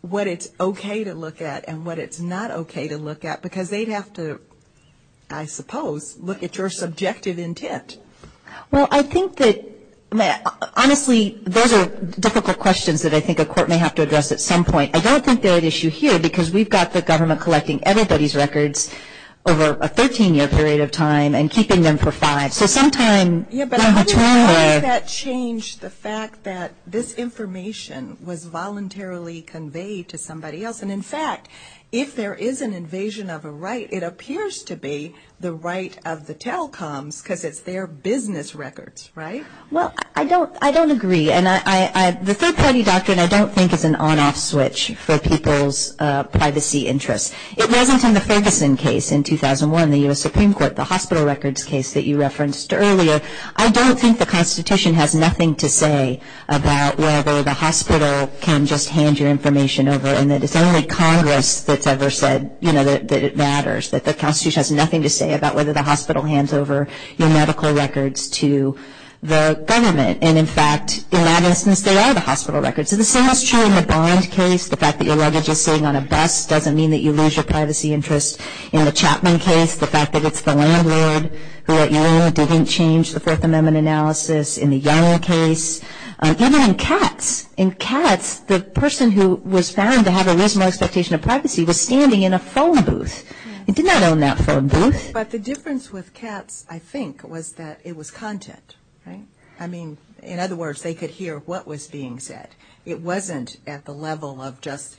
what it's okay to look at and what it's not okay to look at? Because they'd have to, I suppose, look at your subjective intent. Well, I think that, honestly, those are difficult questions that I think a court may have to address at some point. I don't think they're at issue here because we've got the government collecting everybody's records over a 13-year period of time and keeping them for five, so sometime in the future. Yeah, but how does that change the fact that this information was voluntarily conveyed to somebody else? And, in fact, if there is an invasion of a right, it appears to be the right of the telecoms because it's their business records, right? Well, I don't agree. And the third-party doctrine I don't think is an on-off switch for people's privacy interests. It wasn't in the Ferguson case in 2001, the U.S. Supreme Court, the hospital records case that you referenced earlier. I don't think the Constitution has nothing to say about whether the hospital can just hand your information over and that it's only Congress that's ever said, you know, that it matters, that the Constitution has nothing to say about whether the hospital hands over your medical records to the government. And, in fact, it matters since they are the hospital records. Is this so much true in the Bond case? The fact that your luggage is sitting on a desk doesn't mean that you lose your privacy interests. In the Chapman case, the fact that it's the landlord who, at you, didn't change the Fourth Amendment analysis. In the Younger case. Even in Katz. In Katz, the person who was found to have a reasonable expectation of privacy was standing in a phone booth. He did not own that phone booth. But the difference with Katz, I think, was that it was content, right? I mean, in other words, they could hear what was being said. It wasn't at the level of just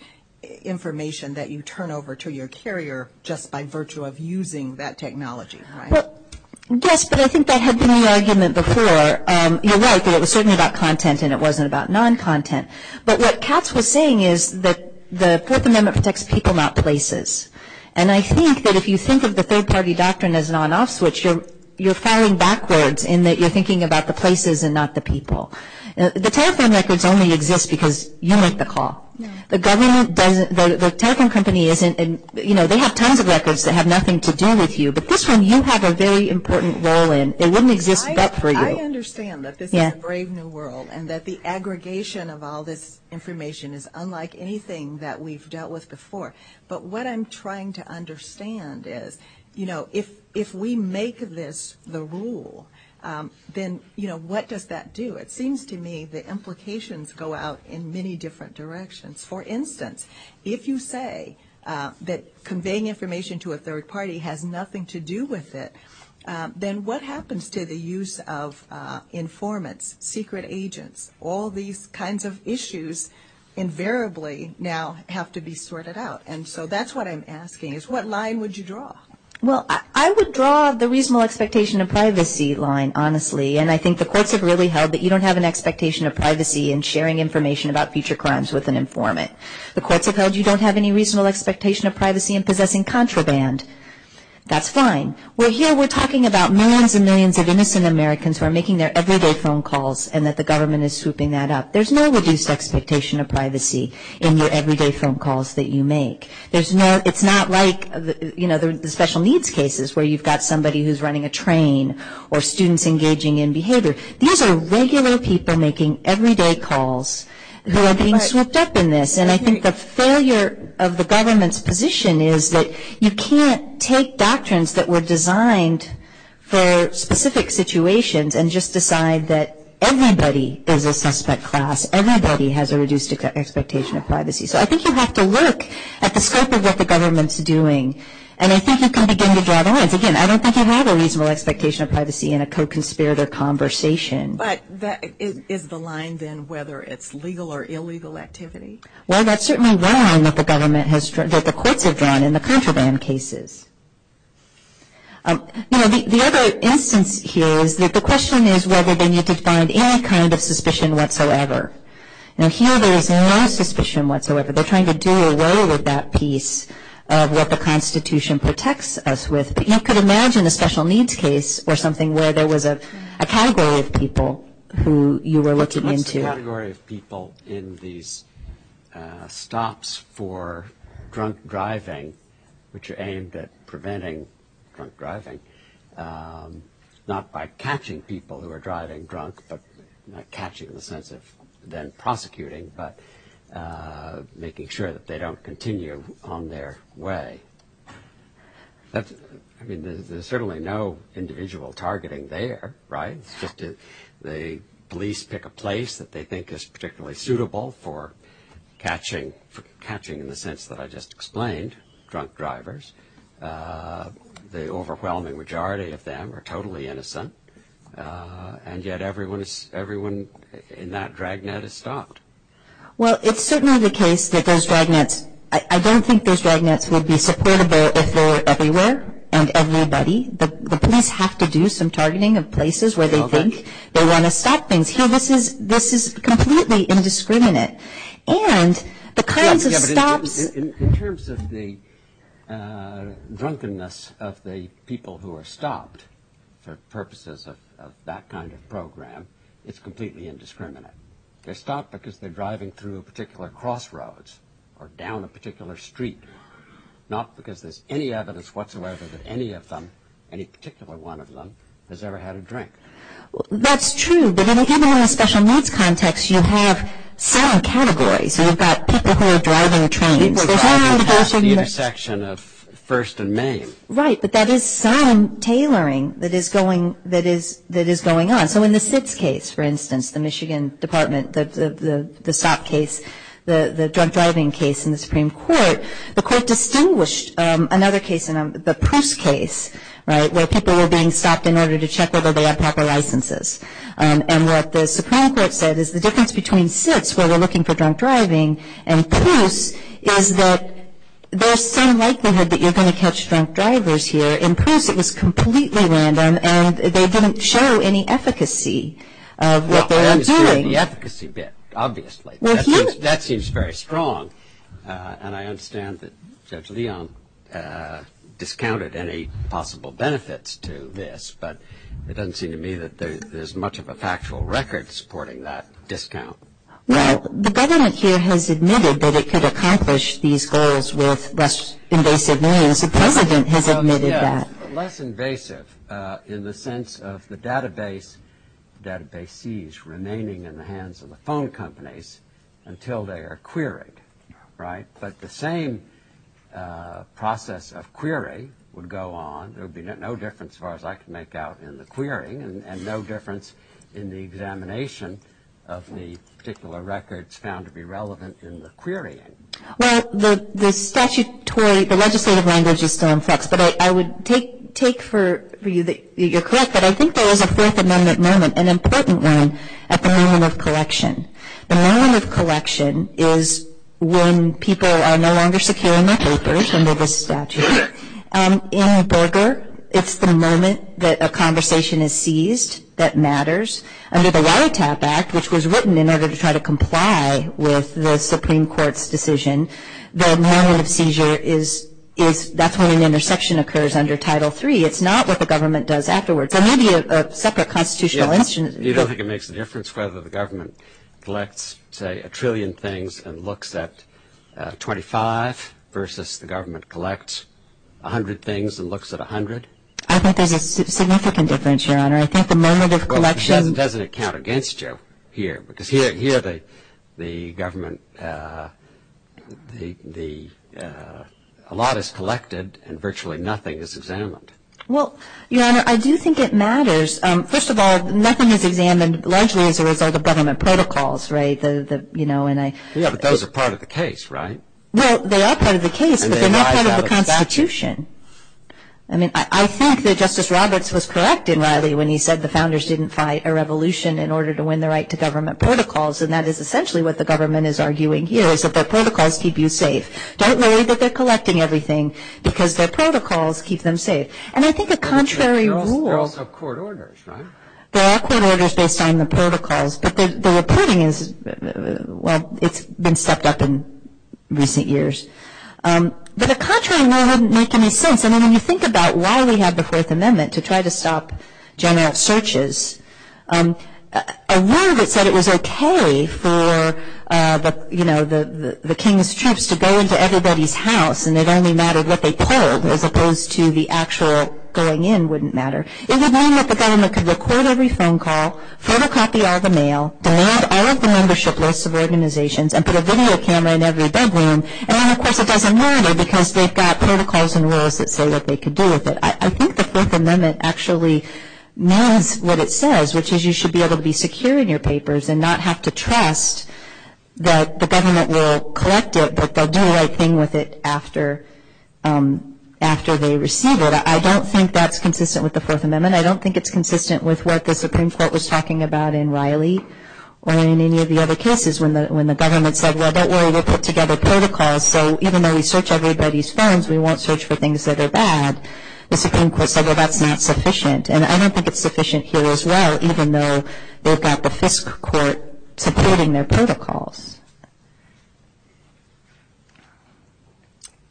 information that you turn over to your carrier just by virtue of using that technology. Well, yes, but I think that had been the argument before. You're right that it was certainly about content and it wasn't about non-content. But what Katz was saying is that the Fourth Amendment protects people, not places. And I think that if you think of the third-party doctrine as an on-off switch, you're firing backwards in that you're thinking about the places and not the people. The telephone records only exist because you make the call. The telephone company, you know, they have tons of records that have nothing to do with you. But this one you have a very important role in. It wouldn't exist without you. I understand that this is a brave new world and that the aggregation of all this information is unlike anything that we've dealt with before. But what I'm trying to understand is, you know, if we make this the rule, then, you know, what does that do? It seems to me the implications go out in many different directions. For instance, if you say that conveying information to a third party has nothing to do with it, then what happens to the use of informants, secret agents? All these kinds of issues invariably now have to be sorted out. And so that's what I'm asking is what line would you draw? Well, I would draw the reasonable expectation of privacy line, honestly. And I think the courts have really held that you don't have an expectation of privacy in sharing information about future crimes with an informant. The courts have held you don't have any reasonable expectation of privacy in possessing contraband. That's fine. Well, here we're talking about millions and millions of innocent Americans who are making their everyday phone calls and that the government is swooping that up. There's no reduced expectation of privacy in your everyday phone calls that you make. It's not like, you know, the special needs cases where you've got somebody who's running a train or students engaging in behavior. These are regular people making everyday calls who are being swooped up in this. And I think the failure of the government's position is that you can't take doctrines that were designed for specific situations and just decide that everybody is a suspect class, everybody has a reduced expectation of privacy. So I think you have to look at the scope of what the government's doing. And I think you can begin to draw the lines. Again, I don't think you have a reasonable expectation of privacy in a co-conspirator conversation. But is the line then whether it's legal or illegal activity? Well, that's certainly the line that the court has drawn in the contraband cases. You know, the other instance here is that the question is whether they need to find any kind of suspicion whatsoever. And here there is no suspicion whatsoever. They're trying to do away with that piece of what the Constitution protects us with. But you could imagine a special needs case or something where there was a category of people who you were looking into. A category of people in these stops for drunk driving, which are aimed at preventing drunk driving, not by catching people who are driving drunk, but not catching in the sense of then prosecuting, but making sure that they don't continue on their way. I mean, there's certainly no individual targeting there, right? The police pick a place that they think is particularly suitable for catching in the sense that I just explained, drunk drivers. The overwhelming majority of them are totally innocent. And yet everyone in that dragnet is stopped. Well, it's certainly the case that those dragnets – I don't think those dragnets would be supportive if they were everywhere and everybody. But the police have to do some targeting of places where they think they want to stop things. So this is completely indiscriminate. In terms of the drunkenness of the people who are stopped for purposes of that kind of program, it's completely indiscriminate. They're stopped because they're driving through a particular crossroads or down a particular street, not because there's any evidence whatsoever that any of them, any particular one of them, has ever had a drink. That's true. But in a human rights special needs context, you have sound categories. You've got people who are driving a train. People driving at the intersection of 1st and Main. Right. But that is sound tailoring that is going on. So in the SIDS case, for instance, the Michigan Department, the stop case, the drunk driving case in the Supreme Court, the court distinguished another case, the Proust case, right, where people were being stopped in order to check whether they had proper licenses. And what the Supreme Court said is the difference between SIDS, where we're looking for drunk driving, and Proust is that there's some likelihood that you're going to catch drunk drivers here. In Proust, it was completely random, and they didn't show any efficacy of what they were doing. Well, I understand the efficacy bit, obviously. That seems very strong, and I understand that Central Neon discounted any possible benefits to this, but it doesn't seem to me that there's much of a factual record supporting that discount. Well, the government here has admitted that it could accomplish these goals with less invasive means. The president has admitted that. Less invasive in the sense of the database seized, remaining in the hands of the phone companies until they are queried, right? But the same process of query would go on. There would be no difference, as far as I can make out, in the querying and no difference in the examination of the particular records found to be relevant in the querying. Well, the statutory, the legislative language is so inflexible. I would take for you that you're correct, but I think there is a Fourth Amendment moment, an important moment at the moment of collection. The moment of collection is when people are no longer securing their papers under this statute. In Berger, it's the moment that a conversation is seized that matters. Under the Wiretap Act, which was written in order to try to comply with the Supreme Court's decision, the moment of seizure is that's when an interception occurs under Title III. It's not what the government does afterwards. There may be a separate constitutional issue. Do you think it makes a difference whether the government collects, say, a trillion things and looks at 25 versus the government collects 100 things and looks at 100? I think there's a significant difference, Your Honor. Doesn't it count against you here? Because here the government, a lot is collected and virtually nothing is examined. Well, Your Honor, I do think it matters. First of all, nothing is examined largely as a result of government protocols, right? Yeah, but those are part of the case, right? Well, they are part of the case, but they're not part of the Constitution. I mean, I think that Justice Roberts was correct in Riley when he said the founders didn't fight a revolution in order to win the right to government protocols, and that is essentially what the government is arguing here is that their protocols keep you safe. Don't worry that they're collecting everything because their protocols keep them safe. And I think a contrary rule of court orders, right? There are court orders based on the protocols, but the reporting is, well, it's been stepped up in recent years. But a contrary rule wouldn't make any sense. I mean, when you think about why we have the Fourth Amendment to try to stop general searches, a rule that said it was okay for the king's troops to go into everybody's house and it only mattered what they told as opposed to the actual going in wouldn't matter. It would mean that the government could record every phone call, photocopy all the mail, all of the membership lists of organizations, and put a video camera in every bedroom. And, of course, it doesn't matter because they've got protocols and rules that say what they can do with it. I think the Fourth Amendment actually meant what it says, which is you should be able to be secure in your papers and not have to trust that the government will collect it, but they'll do the right thing with it after they receive it. I don't think that's consistent with the Fourth Amendment. I don't think it's consistent with what the Supreme Court was talking about in Riley or in any of the other cases when the government said, well, don't worry, we'll put together protocols, so even though we search everybody's phones, we won't search for things that are bad. The Supreme Court said, well, that's not sufficient. And I don't think it's sufficient here as well, even though they've got the Fisk Court supporting their protocols.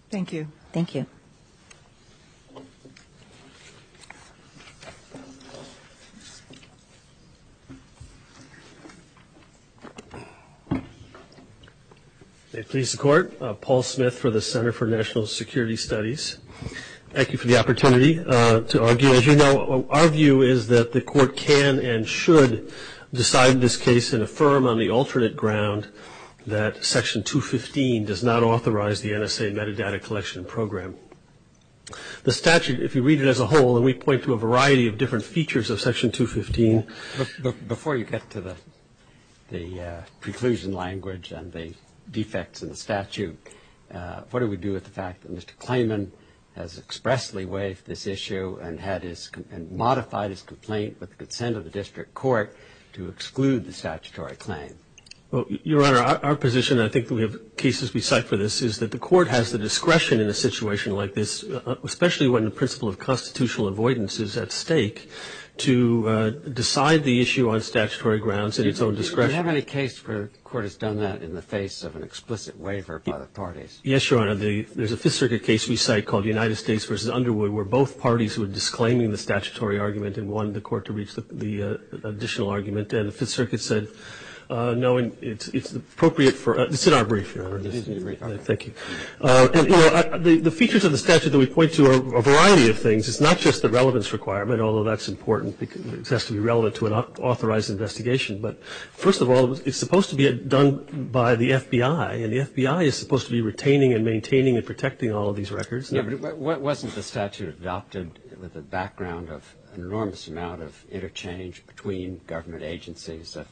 Thank you. Thank you. Thank you, Mr. Court. Paul Smith for the Center for National Security Studies. Thank you for the opportunity to argue. As you know, our view is that the court can and should decide this case and affirm on the alternate ground that Section 215 does not authorize the NSA metadata collection program. The statute, if you read it as a whole, and we point to a variety of different features of Section 215. Before you get to the preclusion language and the defects in the statute, what do we do with the fact that Mr. Clayman has expressly raised this issue and modified his complaint with the consent of the district court to exclude the statutory claim? Your Honor, our position, and I think we have cases we cite for this, is that the court has the discretion in a situation like this, especially when the principle of constitutional avoidance is at stake, to decide the issue on statutory grounds at its own discretion. We haven't had a case where the court has done that in the face of an explicit waiver by the parties. Yes, Your Honor. There's a Fifth Circuit case we cite called the United States v. Underwood where both parties were disclaiming the statutory argument and wanted the court to read the additional argument. And the Fifth Circuit said, knowing it's appropriate for – it's in our brief, Your Honor. Thank you. The features of the statute that we point to are a variety of things. It's not just the relevance requirement, although that's important. It has to be relevant to an authorized investigation. But first of all, it's supposed to be done by the FBI, and the FBI is supposed to be retaining and maintaining and protecting all of these records. Wasn't the statute adopted with the background of an enormous amount of interchange between government agencies of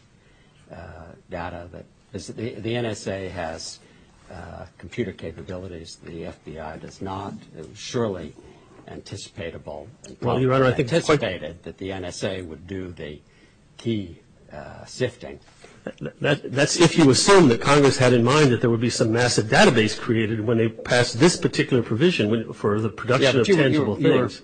data? The NSA has computer capabilities. The FBI does not. It was surely anticipatable. Well, Your Honor, I anticipated that the NSA would do the key sifting. That's if you assume that Congress had in mind that there would be some massive database created when they passed this particular provision for the production of tangible things.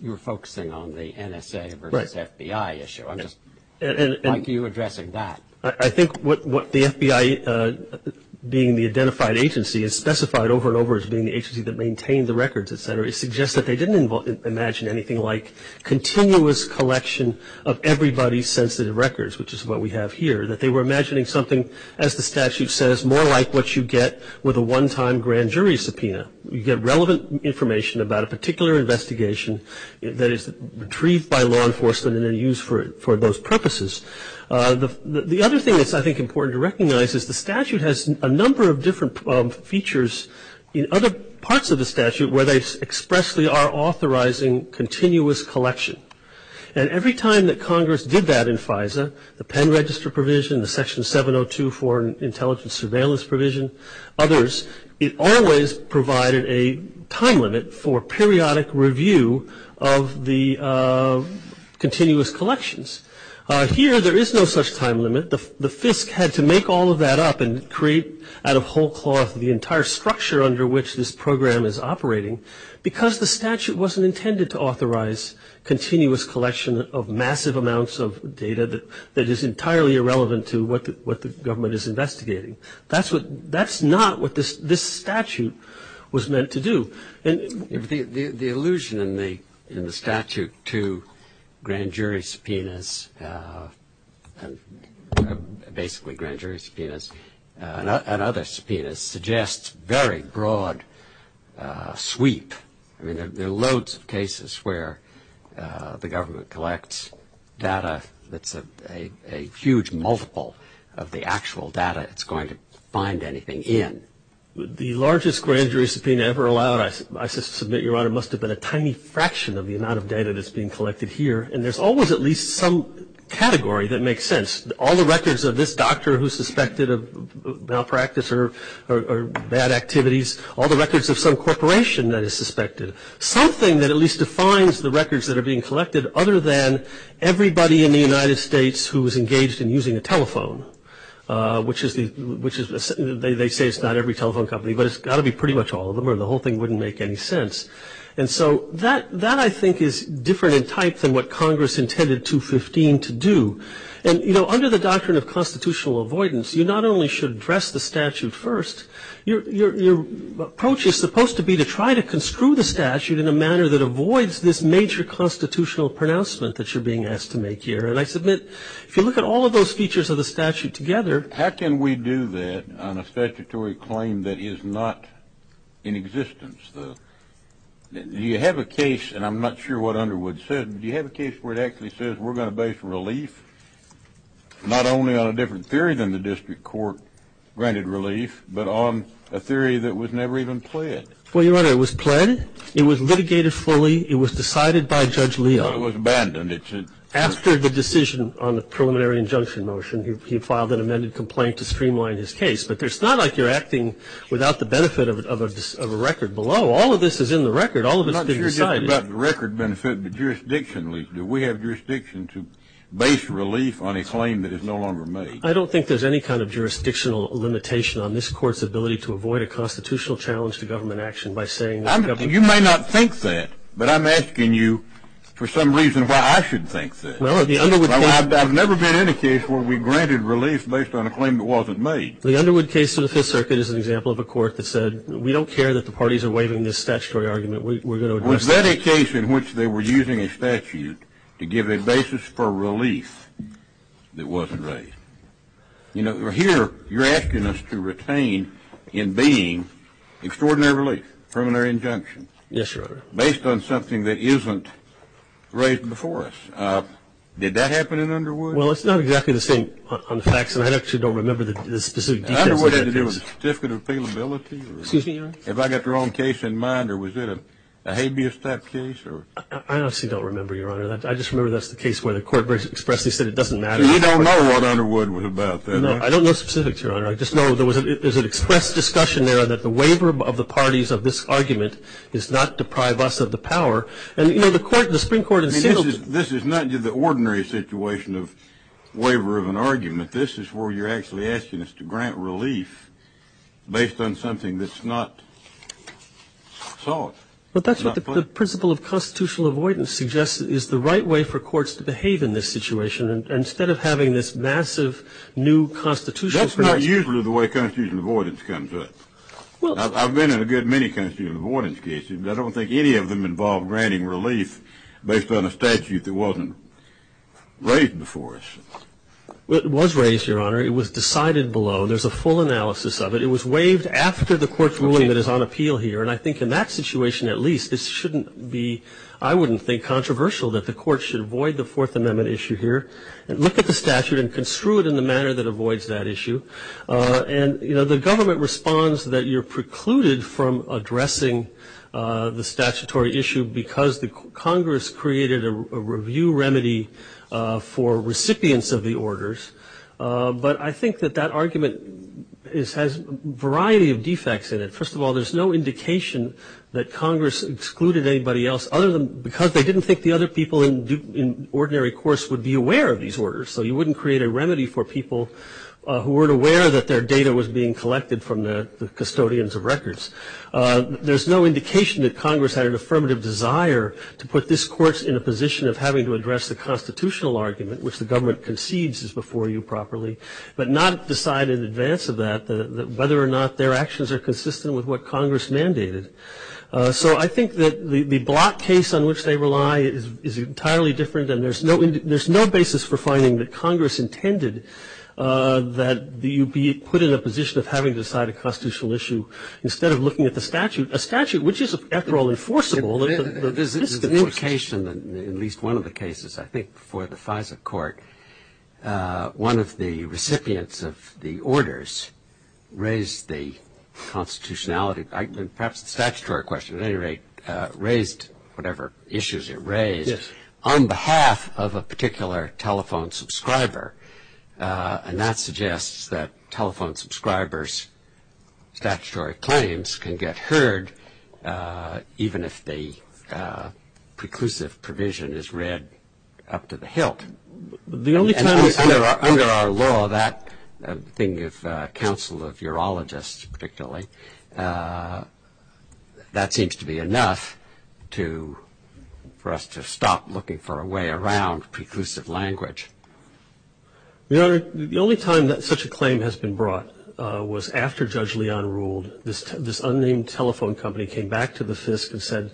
You were focusing on the NSA versus FBI issue. I'm just wondering how you're addressing that. I think what the FBI, being the identified agency, has specified over and over as being the agency that maintained the records, et cetera, suggests that they didn't imagine anything like continuous collection of everybody's sensitive records, which is what we have here, that they were imagining something, as the statute says, more like what you get with a one-time grand jury subpoena. You get relevant information about a particular investigation that is retrieved by law enforcement and then used for those purposes. The other thing that's, I think, important to recognize is the statute has a number of different features in other parts of the statute where they expressly are authorizing continuous collection. And every time that Congress did that in FISA, the pen register provision, the section 702 for intelligence surveillance provision, others, it always provided a time limit for periodic review of the continuous collections. Here, there is no such time limit. The FISC had to make all of that up and create out of whole cloth the entire structure under which this program is operating because the statute wasn't intended to authorize continuous collection of massive amounts of data that is entirely irrelevant to what the government is investigating. That's not what this statute was meant to do. The illusion in the statute to grand jury subpoenas, basically grand jury subpoenas and other subpoenas, suggests very broad sweep. I mean, there are loads of cases where the government collects data that's a huge multiple of the actual data it's going to find anything in. The largest grand jury subpoena ever allowed, I submit, Your Honor, must have been a tiny fraction of the amount of data that's being collected here. And there's always at least some category that makes sense. All the records of this doctor who's suspected of malpractice or bad activities, all the records of some corporation that is suspected, something that at least defines the records that are being collected other than everybody in the United States who is engaged in using a telephone, which they say is not every telephone company, but it's got to be pretty much all of them or the whole thing wouldn't make any sense. And so that I think is different in type than what Congress intended 215 to do. And, you know, under the doctrine of constitutional avoidance, you not only should address the statute first, your approach is supposed to be to try to construe the statute in a manner that avoids this major constitutional pronouncement that you're being asked to make here. And I submit if you look at all of those features of the statute together. How can we do that on a statutory claim that is not in existence? Do you have a case, and I'm not sure what Underwood said, do you have a case where it actually says we're going to base relief, not only on a different theory than the district court granted relief, but on a theory that was never even pled? Well, Your Honor, it was pled. It was litigated fully. It was decided by Judge Leon. It was abandoned. After the decision on the preliminary injunction motion, he filed an amended complaint to streamline his case. But it's not like you're acting without the benefit of a record below. All of this is in the record. All of it is decided. It's not just about the record benefit, but jurisdictionally. Do we have jurisdiction to base relief on a claim that is no longer made? I don't think there's any kind of jurisdictional limitation on this court's ability to avoid a constitutional challenge to government action by saying that the government. You may not think that. But I'm asking you for some reason why I should think that. I've never been in a case where we granted relief based on a claim that wasn't made. The Underwood case to the Fifth Circuit is an example of a court that said, we don't care that the parties are waiving this statutory argument. Was that a case in which they were using a statute to give a basis for relief that wasn't raised? You know, here you're asking us to retain in being extraordinary relief, based on something that isn't raised before us. Did that happen in Underwood? Well, it's not exactly the same on the facts, and I actually don't remember the specifics. Underwood had to do with certificate of appealability? Excuse me, Your Honor? Have I got the wrong case in mind, or was it a habeas type case? I honestly don't remember, Your Honor. I just remember that's the case where the court basically expressed they said it doesn't matter. So you don't know what Underwood was about then? No, I don't know specifics, Your Honor. I just know there was an express discussion there that the waiver of the parties of this argument is not to deprive us of the power. And, you know, the court, the Supreme Court has said this. This is not the ordinary situation of waiver of an argument. This is where you're actually asking us to grant relief based on something that's not solved. But that's what the principle of constitutional avoidance suggests is the right way for courts to behave in this situation. Instead of having this massive new constitutional situation. That's not usually the way constitutional avoidance comes up. I've been in a good many constitutional avoidance cases, but I don't think any of them involve granting relief based on a statute that wasn't raised before us. It was raised, Your Honor. It was decided below. There's a full analysis of it. It was waived after the court's ruling that is on appeal here, and I think in that situation at least this shouldn't be, I wouldn't think, controversial that the court should avoid the Fourth Amendment issue here. Look at the statute and construe it in the manner that avoids that issue. And, you know, the government responds that you're precluded from addressing the statutory issue because Congress created a review remedy for recipients of the orders. But I think that that argument has a variety of defects in it. First of all, there's no indication that Congress excluded anybody else because they didn't think the other people in ordinary courts would be aware of these orders. So you wouldn't create a remedy for people who weren't aware that their data was being collected from the custodians of records. There's no indication that Congress had an affirmative desire to put this court in a position of having to address the constitutional argument, which the government concedes is before you properly, but not decide in advance of that whether or not their actions are consistent with what Congress mandated. So I think that the block case on which they rely is entirely different, and there's no basis for finding that Congress intended that you be put in a position of having to decide a constitutional issue instead of looking at the statute, a statute which is, after all, enforceable. There's no indication in at least one of the cases, I think, for the FISA court, one of the recipients of the orders raised the constitutionality, perhaps the statutory question at any rate, raised whatever issues it raised on behalf of a particular telephone subscriber, and that suggests that telephone subscribers' statutory claims can get heard, even if the preclusive provision is read up to the hilt. Under our law, that thing of counsel of urologists particularly, that seems to be enough for us to stop looking for a way around preclusive language. The only time that such a claim has been brought was after Judge Leon ruled. This unnamed telephone company came back to the FISC and said,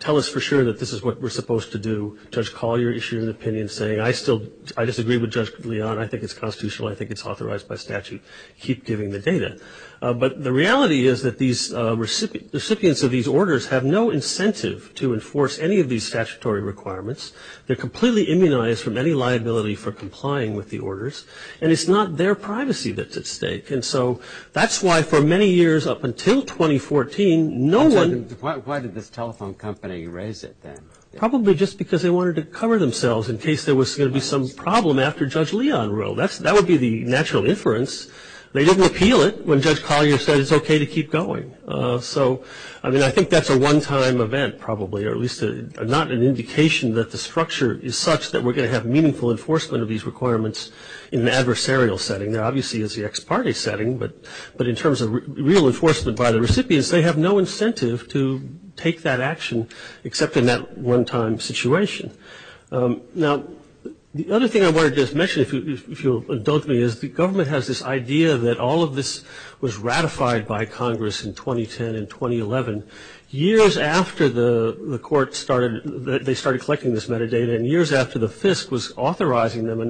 tell us for sure that this is what we're supposed to do. Judge Collier issued an opinion saying, I disagree with Judge Leon. I think it's constitutional. I think it's authorized by statute. Keep giving the data. But the reality is that the recipients of these orders have no incentive to enforce any of these statutory requirements. They're completely immunized from any liability for complying with the orders, and it's not their privacy that's at stake. And so that's why for many years up until 2014, no one- Why did the telephone company raise it then? Probably just because they wanted to cover themselves in case there was going to be some problem after Judge Leon ruled. That would be the natural inference. They didn't appeal it when Judge Collier said it's okay to keep going. So, I mean, I think that's a one-time event probably, or at least not an indication that the structure is such that we're going to have meaningful enforcement of these requirements in an adversarial setting. Now, obviously, it's the ex parte setting, but in terms of real enforcement by the recipients, they have no incentive to take that action except in that one-time situation. Now, the other thing I wanted to just mention, if you'll indulge me, is the government has this idea that all of this was ratified by Congress in 2010 and 2011. Years after the court started- they started collecting this metadata, and years after the FISC was authorizing them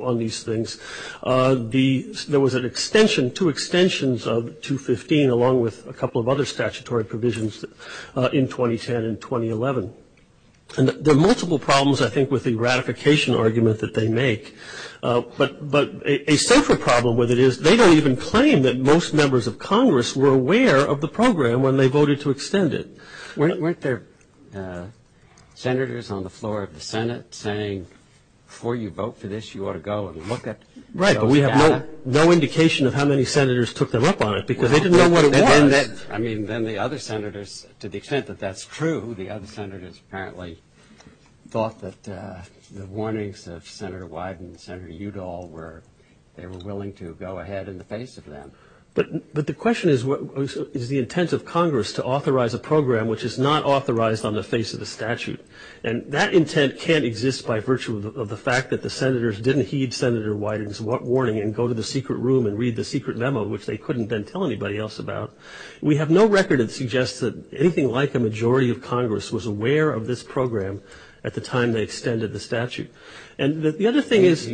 on these things, there was an extension, two extensions of 215, along with a couple of other statutory provisions in 2010 and 2011. There are multiple problems, I think, with the ratification argument that they make, but a central problem with it is they don't even claim that most members of Congress were aware of the program when they voted to extend it. Weren't there senators on the floor of the Senate saying, before you vote for this, you ought to go and look at it? Right, but we have no indication of how many senators took them up on it because they didn't know what it was. I mean, then the other senators, to the extent that that's true, the other senators apparently thought that the warnings of Senator Wyden and Senator Udall were- they were willing to go ahead in the face of them. But the question is, is the intent of Congress to authorize a program which is not authorized on the face of the statute? And that intent can't exist by virtue of the fact that the senators didn't heed Senator Wyden's warning and go to the secret room and read the secret memo, which they couldn't then tell anybody else about. We have no record that suggests that anything like the majority of Congress was aware of this program at the time they extended the statute. And the other thing is-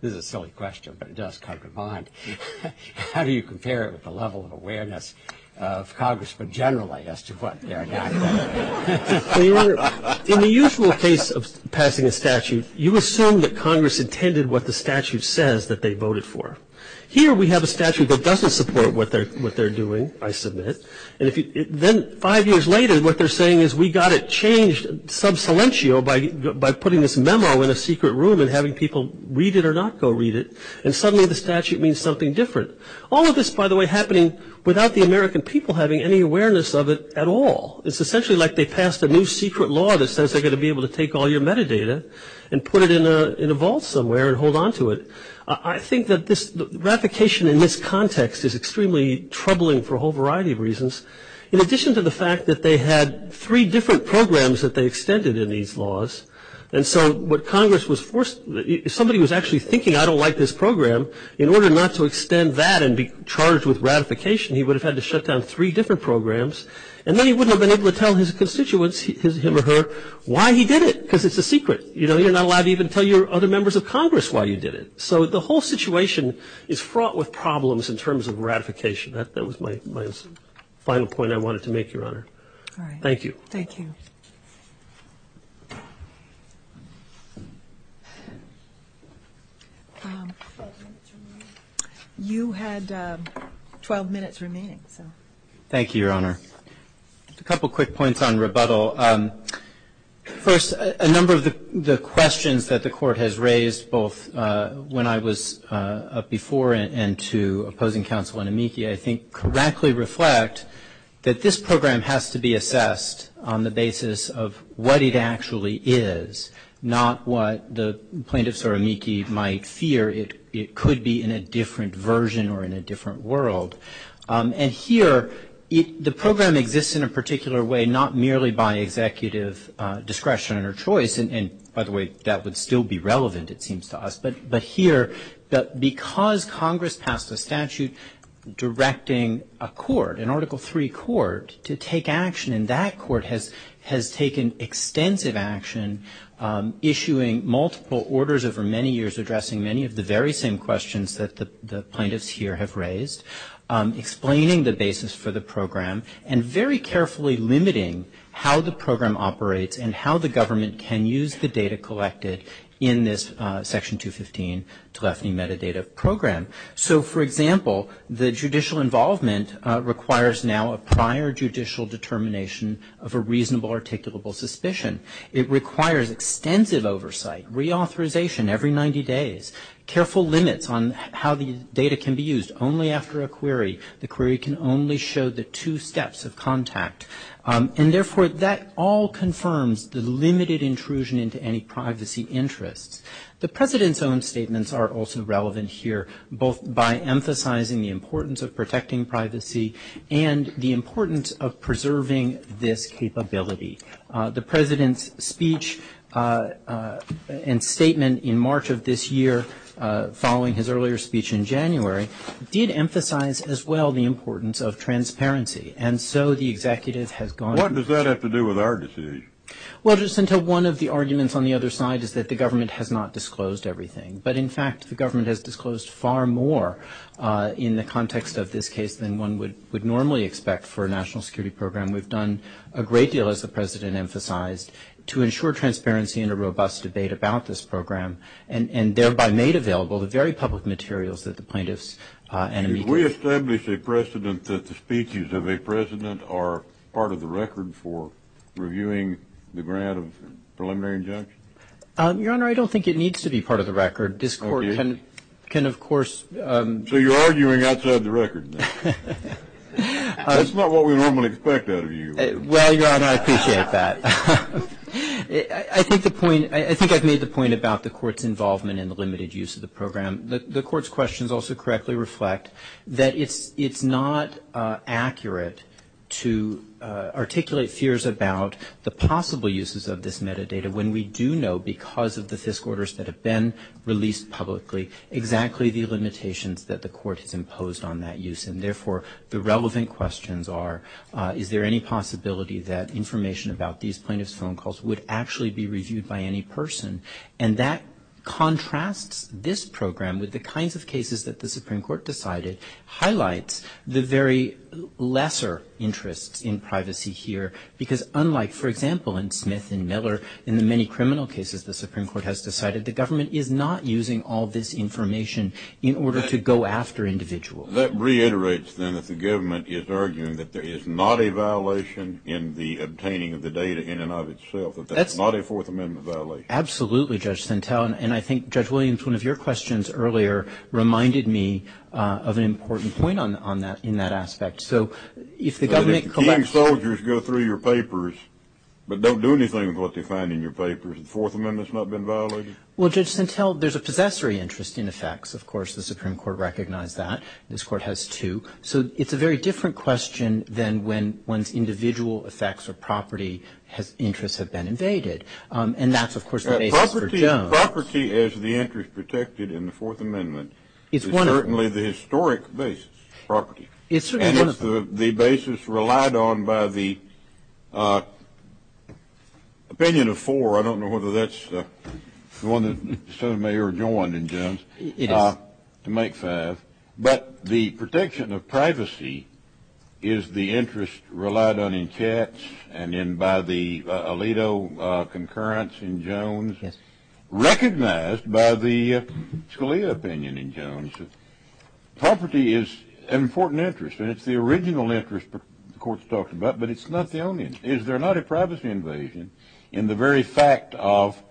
this is a silly question, but it does come to mind. How do you compare it with the level of awareness of Congress, but generally, as to what they're not aware of? In the usual case of passing a statute, you assume that Congress intended what the statute says that they voted for. Here we have a statute that doesn't support what they're doing, I submit. And then five years later, what they're saying is we got it changed sub silentio by putting this memo in a secret room and having people read it or not go read it, and suddenly the statute means something different. All of this, by the way, happening without the American people having any awareness of it at all. It's essentially like they passed a new secret law that says they're going to be able to take all your metadata and put it in a vault somewhere and hold on to it. I think that this- ratification in this context is extremely troubling for a whole variety of reasons. In addition to the fact that they had three different programs that they extended in these laws, and so what Congress was forced- somebody was actually thinking I don't like this program. In order not to extend that and be charged with ratification, he would have had to shut down three different programs. And then he wouldn't have been able to tell his constituents, him or her, why he did it because it's a secret. You know, you're not allowed to even tell your other members of Congress why you did it. So the whole situation is fraught with problems in terms of ratification. That was my final point I wanted to make, Your Honor. Thank you. Thank you. You had 12 minutes remaining. Thank you, Your Honor. A couple quick points on rebuttal. First, a number of the questions that the Court has raised both when I was up before and to opposing counsel in Amici, I think correctly reflect that this program has to be assessed on the basis of what it actually is, not what the plaintiffs or Amici might fear it could be in a different version or in a different world. And here, the program exists in a particular way, not merely by executive discretion or choice. And, by the way, that would still be relevant, it seems to us. But here, because Congress passed a statute directing a court, an Article III court, to take action, and that court has taken extensive action, issuing multiple orders over many years, addressing many of the very same questions that the plaintiffs here have raised, explaining the basis for the program, and very carefully limiting how the program operates and how the government can use the data collected in this Section 215 telephony metadata program. So, for example, the judicial involvement requires now a prior judicial determination of a reasonable articulable suspicion. It requires extensive oversight, reauthorization every 90 days, careful limits on how the data can be used. Only after a query, the query can only show the two steps of contact. And, therefore, that all confirms the limited intrusion into any privacy interest. The President's own statements are also relevant here, both by emphasizing the importance of protecting privacy and the importance of preserving this capability. The President's speech and statement in March of this year, following his earlier speech in January, did emphasize, as well, the importance of transparency. And so the executive has gone on. What does that have to do with our decision? Well, just until one of the arguments on the other side is that the government has not disclosed everything. But, in fact, the government has disclosed far more in the context of this case than one would normally expect for a national security program. We've done a great deal, as the President emphasized, to ensure transparency and a robust debate about this program and thereby made available the very public materials that the plaintiffs. Did we establish a precedent that the speeches of a President are part of the record for reviewing the grant of preliminary injunction? Your Honor, I don't think it needs to be part of the record. This Court can, of course. So you're arguing outside the record. That's not what we normally expect out of you. Well, Your Honor, I appreciate that. I think I've made the point about the Court's involvement in the limited use of the program. The Court's questions also correctly reflect that it's not accurate to articulate fears about the possible uses of this metadata when we do know, because of the FISC orders that have been released publicly, exactly the limitations that the Court has imposed on that use. And therefore, the relevant questions are, is there any possibility that information about these plaintiff's phone calls would actually be reviewed by any person? And that contrasts this program with the kinds of cases that the Supreme Court decided, highlights the very lesser interest in privacy here, because unlike, for example, in Smith and Miller, in the many criminal cases the Supreme Court has decided, the government is not using all this information in order to go after individuals. That reiterates, then, that the government is arguing that there is not a violation in the obtaining of the data in and of itself. That's not a Fourth Amendment violation. Absolutely, Judge Stentell, and I think Judge Williams, one of your questions earlier, reminded me of an important point in that aspect. If the King's soldiers go through your papers, but don't do anything with what they find in your papers, has the Fourth Amendment not been violated? Well, Judge Stentell, there's a possessory interest in the facts, of course. The Supreme Court recognized that. This Court has, too. So it's a very different question than when one's individual effects or property interests have been invaded. And that's, of course, the data for Jones. Property is the interest protected in the Fourth Amendment. It's certainly the historic base property. And it's the basis relied on by the opinion of four. I don't know whether that's the one that Senator Mayer joined in Jones, to make five. But the protection of privacy is the interest relied on in Katz and then by the Alito concurrence in Jones, recognized by the Scalia opinion in Jones. Property is an important interest. And it's the original interest the Court's talking about. But it's not the only one. Is there not a privacy invasion in the very fact of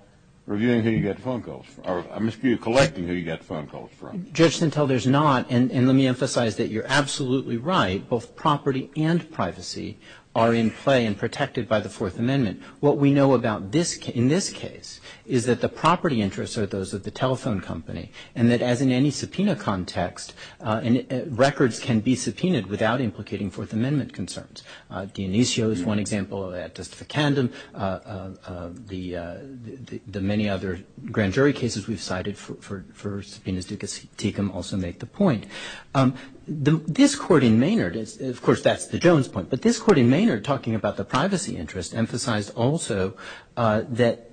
reviewing who you get phone calls from? I mean, you're collecting who you get phone calls from. Judge Stentell, there's not. And let me emphasize that you're absolutely right. Both property and privacy are in play and protected by the Fourth Amendment. What we know about in this case is that the property interests are those of the telephone company. And that as in any subpoena context, records can be subpoenaed without implicating Fourth Amendment concerns. Dionisio is one example of that. Justificandum, the many other grand jury cases we've cited for subpoenas, Duke and Tecum also make the point. This Court in Maynard is, of course, that's the Jones point. But this Court in Maynard, talking about the privacy interest, emphasized also that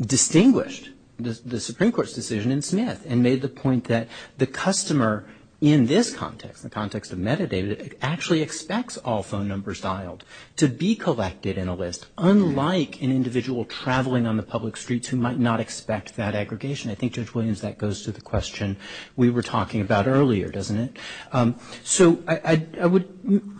distinguished the Supreme Court's decision in Smith and made the point that the customer in this context, the context of metadata, actually expects all phone numbers dialed to be collected in a list, unlike an individual traveling on the public streets who might not expect that aggregation. I think, Judge Williams, that goes to the question we were talking about earlier, doesn't it? So I would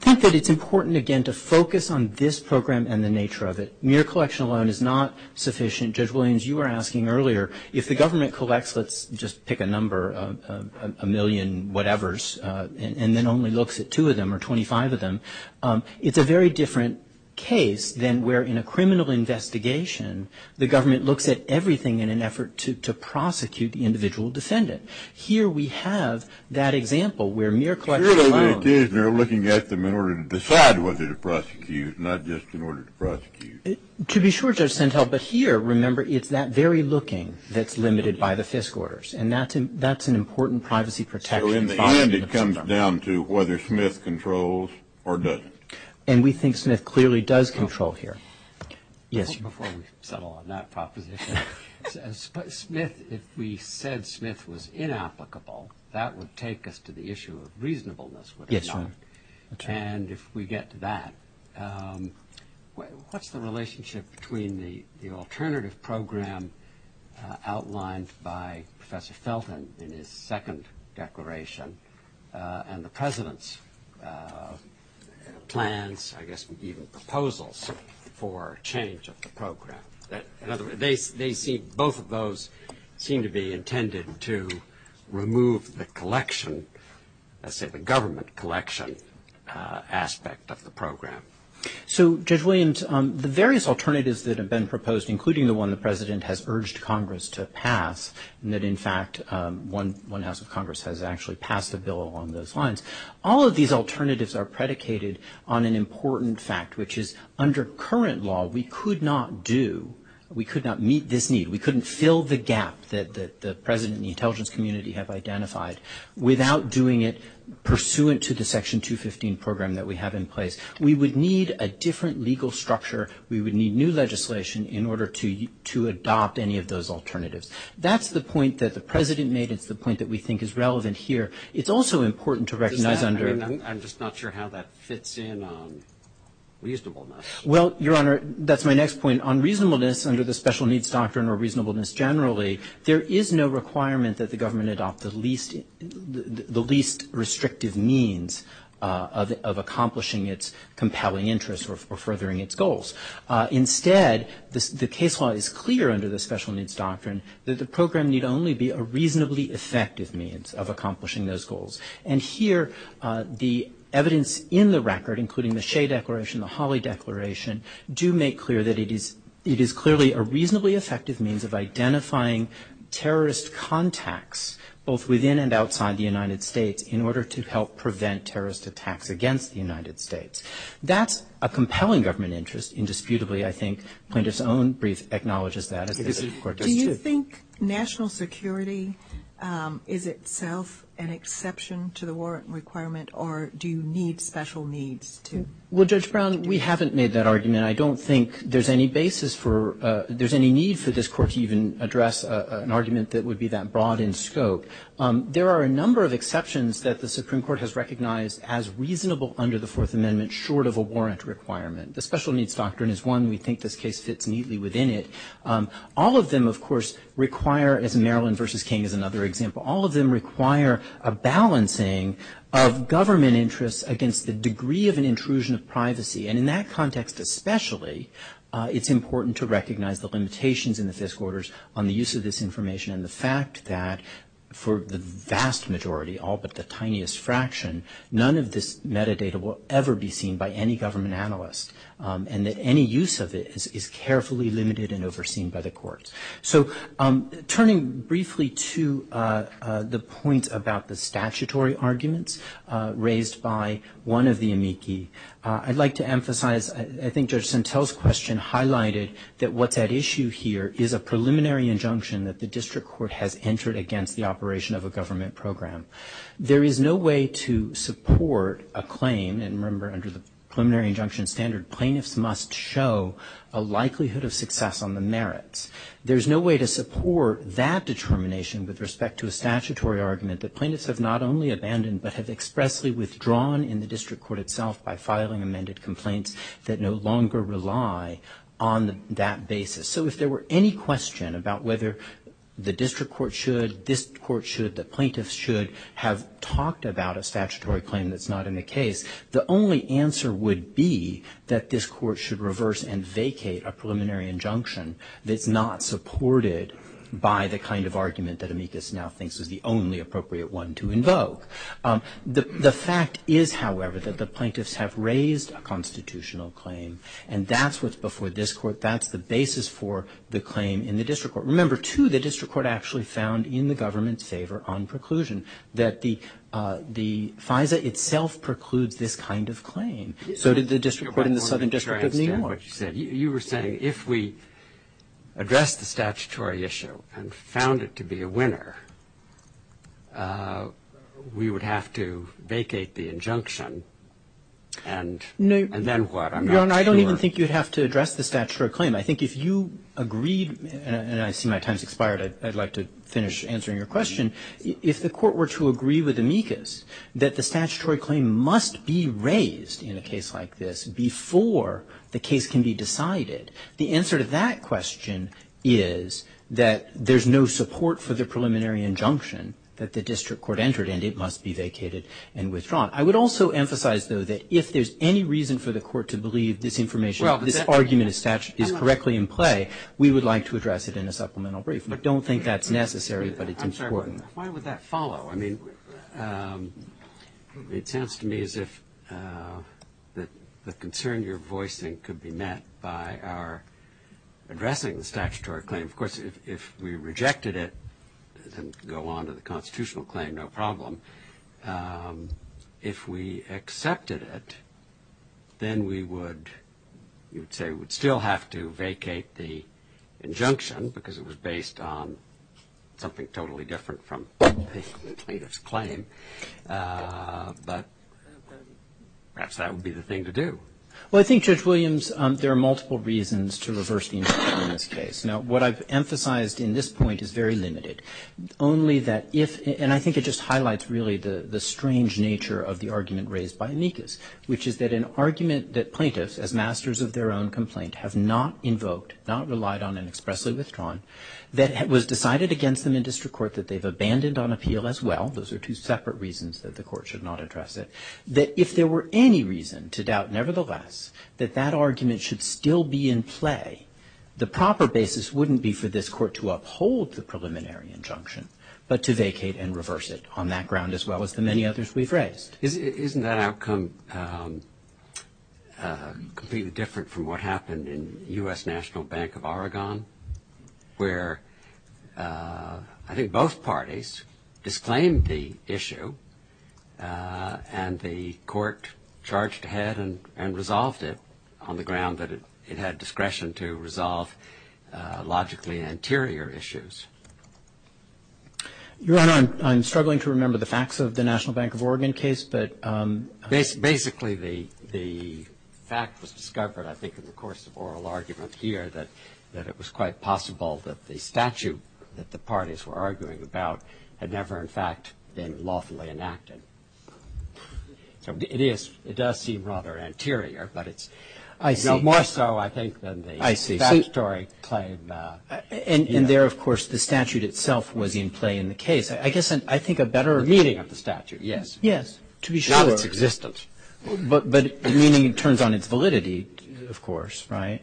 think that it's important, again, to focus on this program and the nature of it. Mere collection alone is not sufficient. Judge Williams, you were asking earlier, if the government collects, let's just pick a number, a million whatevers, and then only looks at two of them or 25 of them, it's a very different case than where in a criminal investigation the government looks at everything in an effort to prosecute the individual descendant. Here we have that example where mere collection alone. Here they're looking at them in order to decide whether to prosecute, not just in order to prosecute. To be sure, Judge Pentel, but here, remember, it's that very looking that's limited by the FISC orders, and that's an important privacy protection. So in the end, it comes down to whether Smith controls or doesn't. And we think Smith clearly does control here. Yes, before we settle on that proposition, if we said Smith was inapplicable, that would take us to the issue of reasonableness. And if we get to that, what's the relationship between the alternative program outlined by Professor Felton in his second declaration and the President's plans, I guess even proposals for change of the program? In other words, both of those seem to be intended to remove the collection, let's say the government collection aspect of the program. So Judge Williams, the various alternatives that have been proposed, including the one the President has urged Congress to pass, and that in fact one House of Congress has actually passed the bill along those lines, all of these alternatives are predicated on an important fact, which is under current law we could not do, we could not meet this need. We couldn't fill the gap that the President and the intelligence community have identified without doing it pursuant to the Section 215 program that we have in place. We would need a different legal structure. We would need new legislation in order to adopt any of those alternatives. That's the point that the President made. It's the point that we think is relevant here. It's also important to recognize under- I'm just not sure how that fits in on reasonableness. Well, Your Honor, that's my next point. On reasonableness under the Special Needs Doctrine or reasonableness generally, there is no requirement that the government adopt the least restrictive means of accomplishing its compelling interests or furthering its goals. Instead, the case law is clear under the Special Needs Doctrine that the program need only be a reasonably effective means of accomplishing those goals. And here the evidence in the record, including the Shea Declaration, the Hawley Declaration, do make clear that it is clearly a reasonably effective means of identifying terrorist contacts, both within and outside the United States, in order to help prevent terrorist attacks against the United States. That's a compelling government interest, indisputably, I think. Plaintiff's own brief acknowledges that. Do you think national security is itself an exception to the warrant requirement, or do you need special needs to- Well, Judge Brown, we haven't made that argument. I don't think there's any basis for- there's any need for this Court to even address an argument that would be that broad in scope. There are a number of exceptions that the Supreme Court has recognized as reasonable under the Fourth Amendment, short of a warrant requirement. The Special Needs Doctrine is one. We think this case fits neatly within it. All of them, of course, require, as Maryland v. King is another example, all of them require a balancing of government interests against the degree of an intrusion of privacy. And in that context especially, it's important to recognize the limitations in the Fisk Orders on the use of this information and the fact that, for the vast majority, all but the tiniest fraction, none of this metadata will ever be seen by any government analyst and that any use of it is carefully limited and overseen by the courts. So, turning briefly to the point about the statutory arguments raised by one of the amici, I'd like to emphasize, I think Judge Santel's question highlighted that what that issue here is a preliminary injunction that the district court has entered against the operation of a government program. There is no way to support a claim, and remember under the preliminary injunction standard, plaintiffs must show a likelihood of success on the merits. There's no way to support that determination with respect to a statutory argument that plaintiffs have not only abandoned, but have expressly withdrawn in the district court itself by filing amended complaints that no longer rely on that basis. So, if there were any question about whether the district court should, the plaintiffs should have talked about a statutory claim that's not in the case, the only answer would be that this court should reverse and vacate a preliminary injunction that's not supported by the kind of argument that amicus now thinks is the only appropriate one to invoke. The fact is, however, that the plaintiffs have raised a constitutional claim and that's what's before this court. That's the basis for the claim in the district court. Remember, too, the district court actually found in the government's favor on preclusion that the FISA itself precludes this kind of claim. So did the district court in the Southern District of New York. You were saying if we addressed the statutory issue and found it to be a winner, we would have to vacate the injunction, and then what? I'm not sure. I don't even think you'd have to address the statutory claim. I think if you agreed, and I see my time's expired. I'd like to finish answering your question. If the court were to agree with amicus that the statutory claim must be raised in a case like this before the case can be decided, the answer to that question is that there's no support for the preliminary injunction that the district court entered, and it must be vacated and withdrawn. I would also emphasize, though, that if there's any reason for the court to believe this information, if this argument is correctly in play, we would like to address it in a supplemental brief. We don't think that's necessary, but it's important. Why would that follow? I mean, it tends to me as if the concern you're voicing could be met by our addressing the statutory claim. Of course, if we rejected it, it can go on to the constitutional claim, no problem. If we accepted it, then we would still have to vacate the injunction because it was based on something totally different from the plaintiff's claim, but perhaps that would be the thing to do. Well, I think, Judge Williams, there are multiple reasons to reverse the injunction in this case. Now, what I've emphasized in this point is very limited. I think it just highlights, really, the strange nature of the argument raised by amicus, which is that an argument that plaintiffs, as masters of their own complaint, have not invoked, not relied on and expressly withdrawn, that was decided against them in district court, that they've abandoned on appeal as well. Those are two separate reasons that the court should not address it. If there were any reason to doubt, nevertheless, that that argument should still be in play, the proper basis wouldn't be for this court to uphold the preliminary injunction, but to vacate and reverse it on that ground as well as the many others we've raised. Isn't that outcome completely different from what happened in U.S. National Bank of Oregon, where I think both parties disclaimed the issue and the court charged ahead and resolved it on the ground that it had discretion to resolve logically anterior issues? Your Honor, I'm struggling to remember the facts of the National Bank of Oregon case, but... Basically, the fact was discovered, I think, in the course of oral argument here, that it was quite possible that the statute that the parties were arguing about had never, in fact, been lawfully enacted. It is. It does seem rather anterior, but it's more so, I think, than the statutory claim. I see. And there, of course, the statute itself was in play in the case. I guess I think a better meaning of the statute, yes. Yes, to be sure. Now it's existence. But the meaning turns on its validity, of course, right?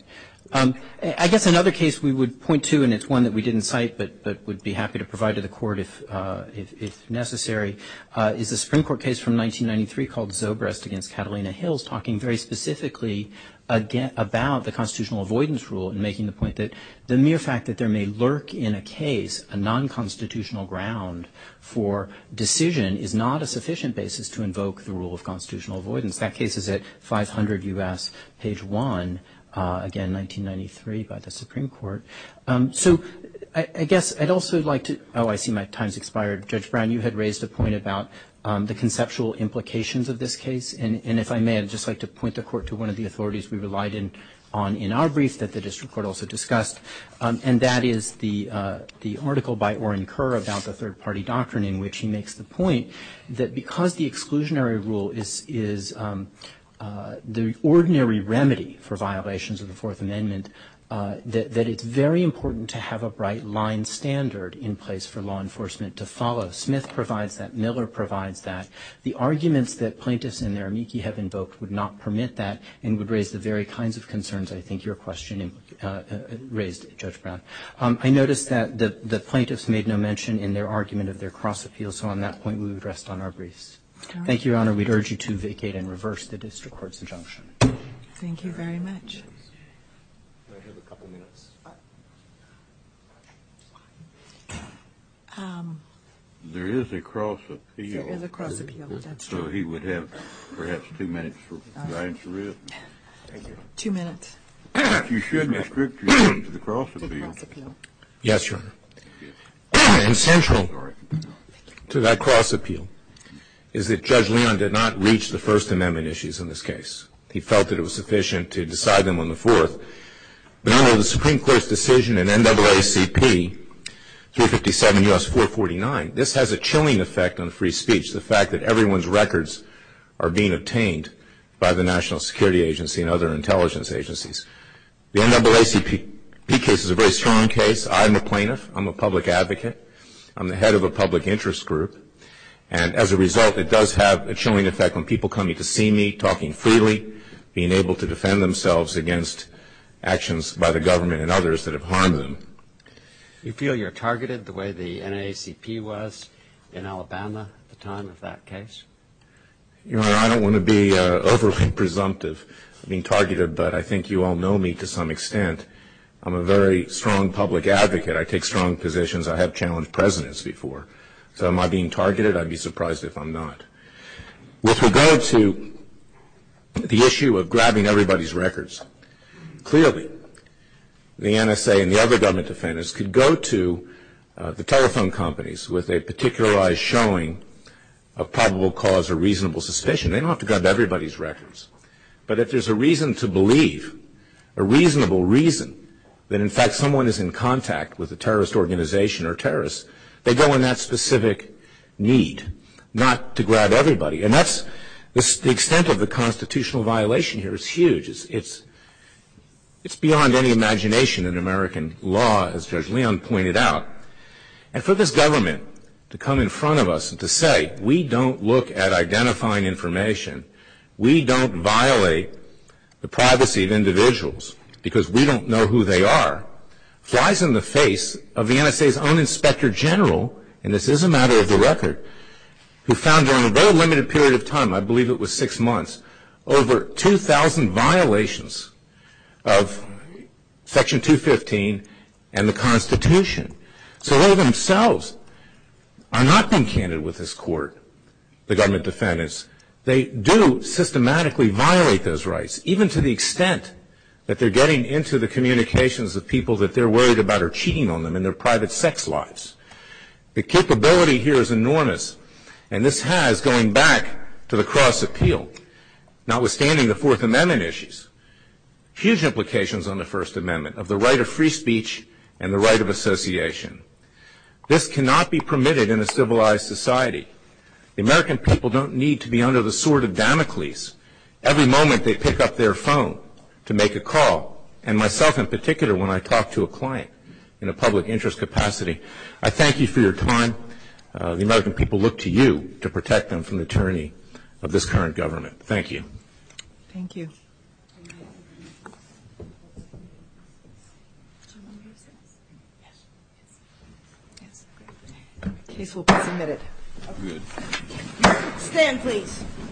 I guess another case we would point to, and it's one that we didn't cite, but would be happy to provide to the court if necessary, is the Supreme Court case from 1993 called Zobrist against Catalina Hills, talking very specifically about the constitutional avoidance rule and making the point that the mere fact that there may lurk in a case a nonconstitutional ground for decision is not a sufficient basis to invoke the rule of constitutional avoidance. That case is at 500 U.S., page 1, again, 1993, by the Supreme Court. So I guess I'd also like to... Oh, I see my time's expired. Judge Brown, you had raised a point about the conceptual implications of this case. And if I may, I'd just like to point the court to one of the authorities we relied on in our briefs that the district court also discussed, and that is the article by Oren Kerr about the third-party doctrine in which he makes the point that because the exclusionary rule is the ordinary remedy for violations of the Fourth Amendment, that it's very important to have a bright-line standard in place for law enforcement to follow. Smith provides that, Miller provides that. The arguments that plaintiffs and their amici have invoked would not permit that and would raise the very kinds of concerns I think your question raised, Judge Brown. I noticed that the plaintiffs made no mention in their argument of their cross-appeals, so on that point we would rest on our briefs. Thank you, Your Honor. We'd urge you to vacate and reverse the district court's injunction. Thank you very much. There is a cross-appeal, so he would have perhaps two minutes to answer it. Two minutes. If you shouldn't restrict your time to the cross-appeal. Yes, Your Honor. And central to that cross-appeal is that Judge Leon did not reach the First Amendment issues in this case. He felt that it was sufficient to decide them on the Fourth. But under the Supreme Court's decision in NAACP 357 U.S. 449, this has a chilling effect on free speech, the fact that everyone's records are being obtained by the National Security Agency and other intelligence agencies. The NAACP case is a very strong case. I'm a plaintiff. I'm a public advocate. I'm the head of a public interest group. And as a result, it does have a chilling effect on people coming to see me, talking freely, being able to defend themselves against actions by the government and others that have harmed them. Do you feel you're targeted the way the NAACP was in Alabama at the time of that case? Your Honor, I don't want to be overly presumptive in being targeted, but I think you all know me to some extent. I'm a very strong public advocate. I take strong positions. I have challenged presidents before. So am I being targeted? I'd be surprised if I'm not. With regard to the issue of grabbing everybody's records, clearly the NSA and the other government defenders could go to the telephone companies with a particularized showing of probable cause or reasonable suspicion. They don't have to grab everybody's records. But if there's a reason to believe, a reasonable reason, that in fact someone is in contact with a terrorist organization or terrorists, they go in that specific need, not to grab everybody. And the extent of the constitutional violation here is huge. It's beyond any imagination in American law, as Judge Leon pointed out. And for this government to come in front of us and to say, we don't look at identifying information, we don't violate the privacy of individuals because we don't know who they are, flies in the face of the NSA's own Inspector General, and this is a matter of the record, who found during a very limited period of time, I believe it was six months, over 2,000 violations of Section 215 and the Constitution. So they themselves are not being candid with this court, the government defendants. They do systematically violate those rights, even to the extent that they're getting into the communications of people that they're worried about are cheating on them in their private sex lives. The capability here is enormous, and this has, going back to the Cross Appeal, notwithstanding the Fourth Amendment issues, huge implications on the First Amendment, of the right of free speech and the right of association. This cannot be permitted in a civilized society. The American people don't need to be under the sword of Damocles. Every moment they pick up their phone to make a call, and myself in particular when I talk to a client in a public interest capacity. I thank you for your time. The American people look to you to protect them from the tyranny of this current government. Thank you. Thank you.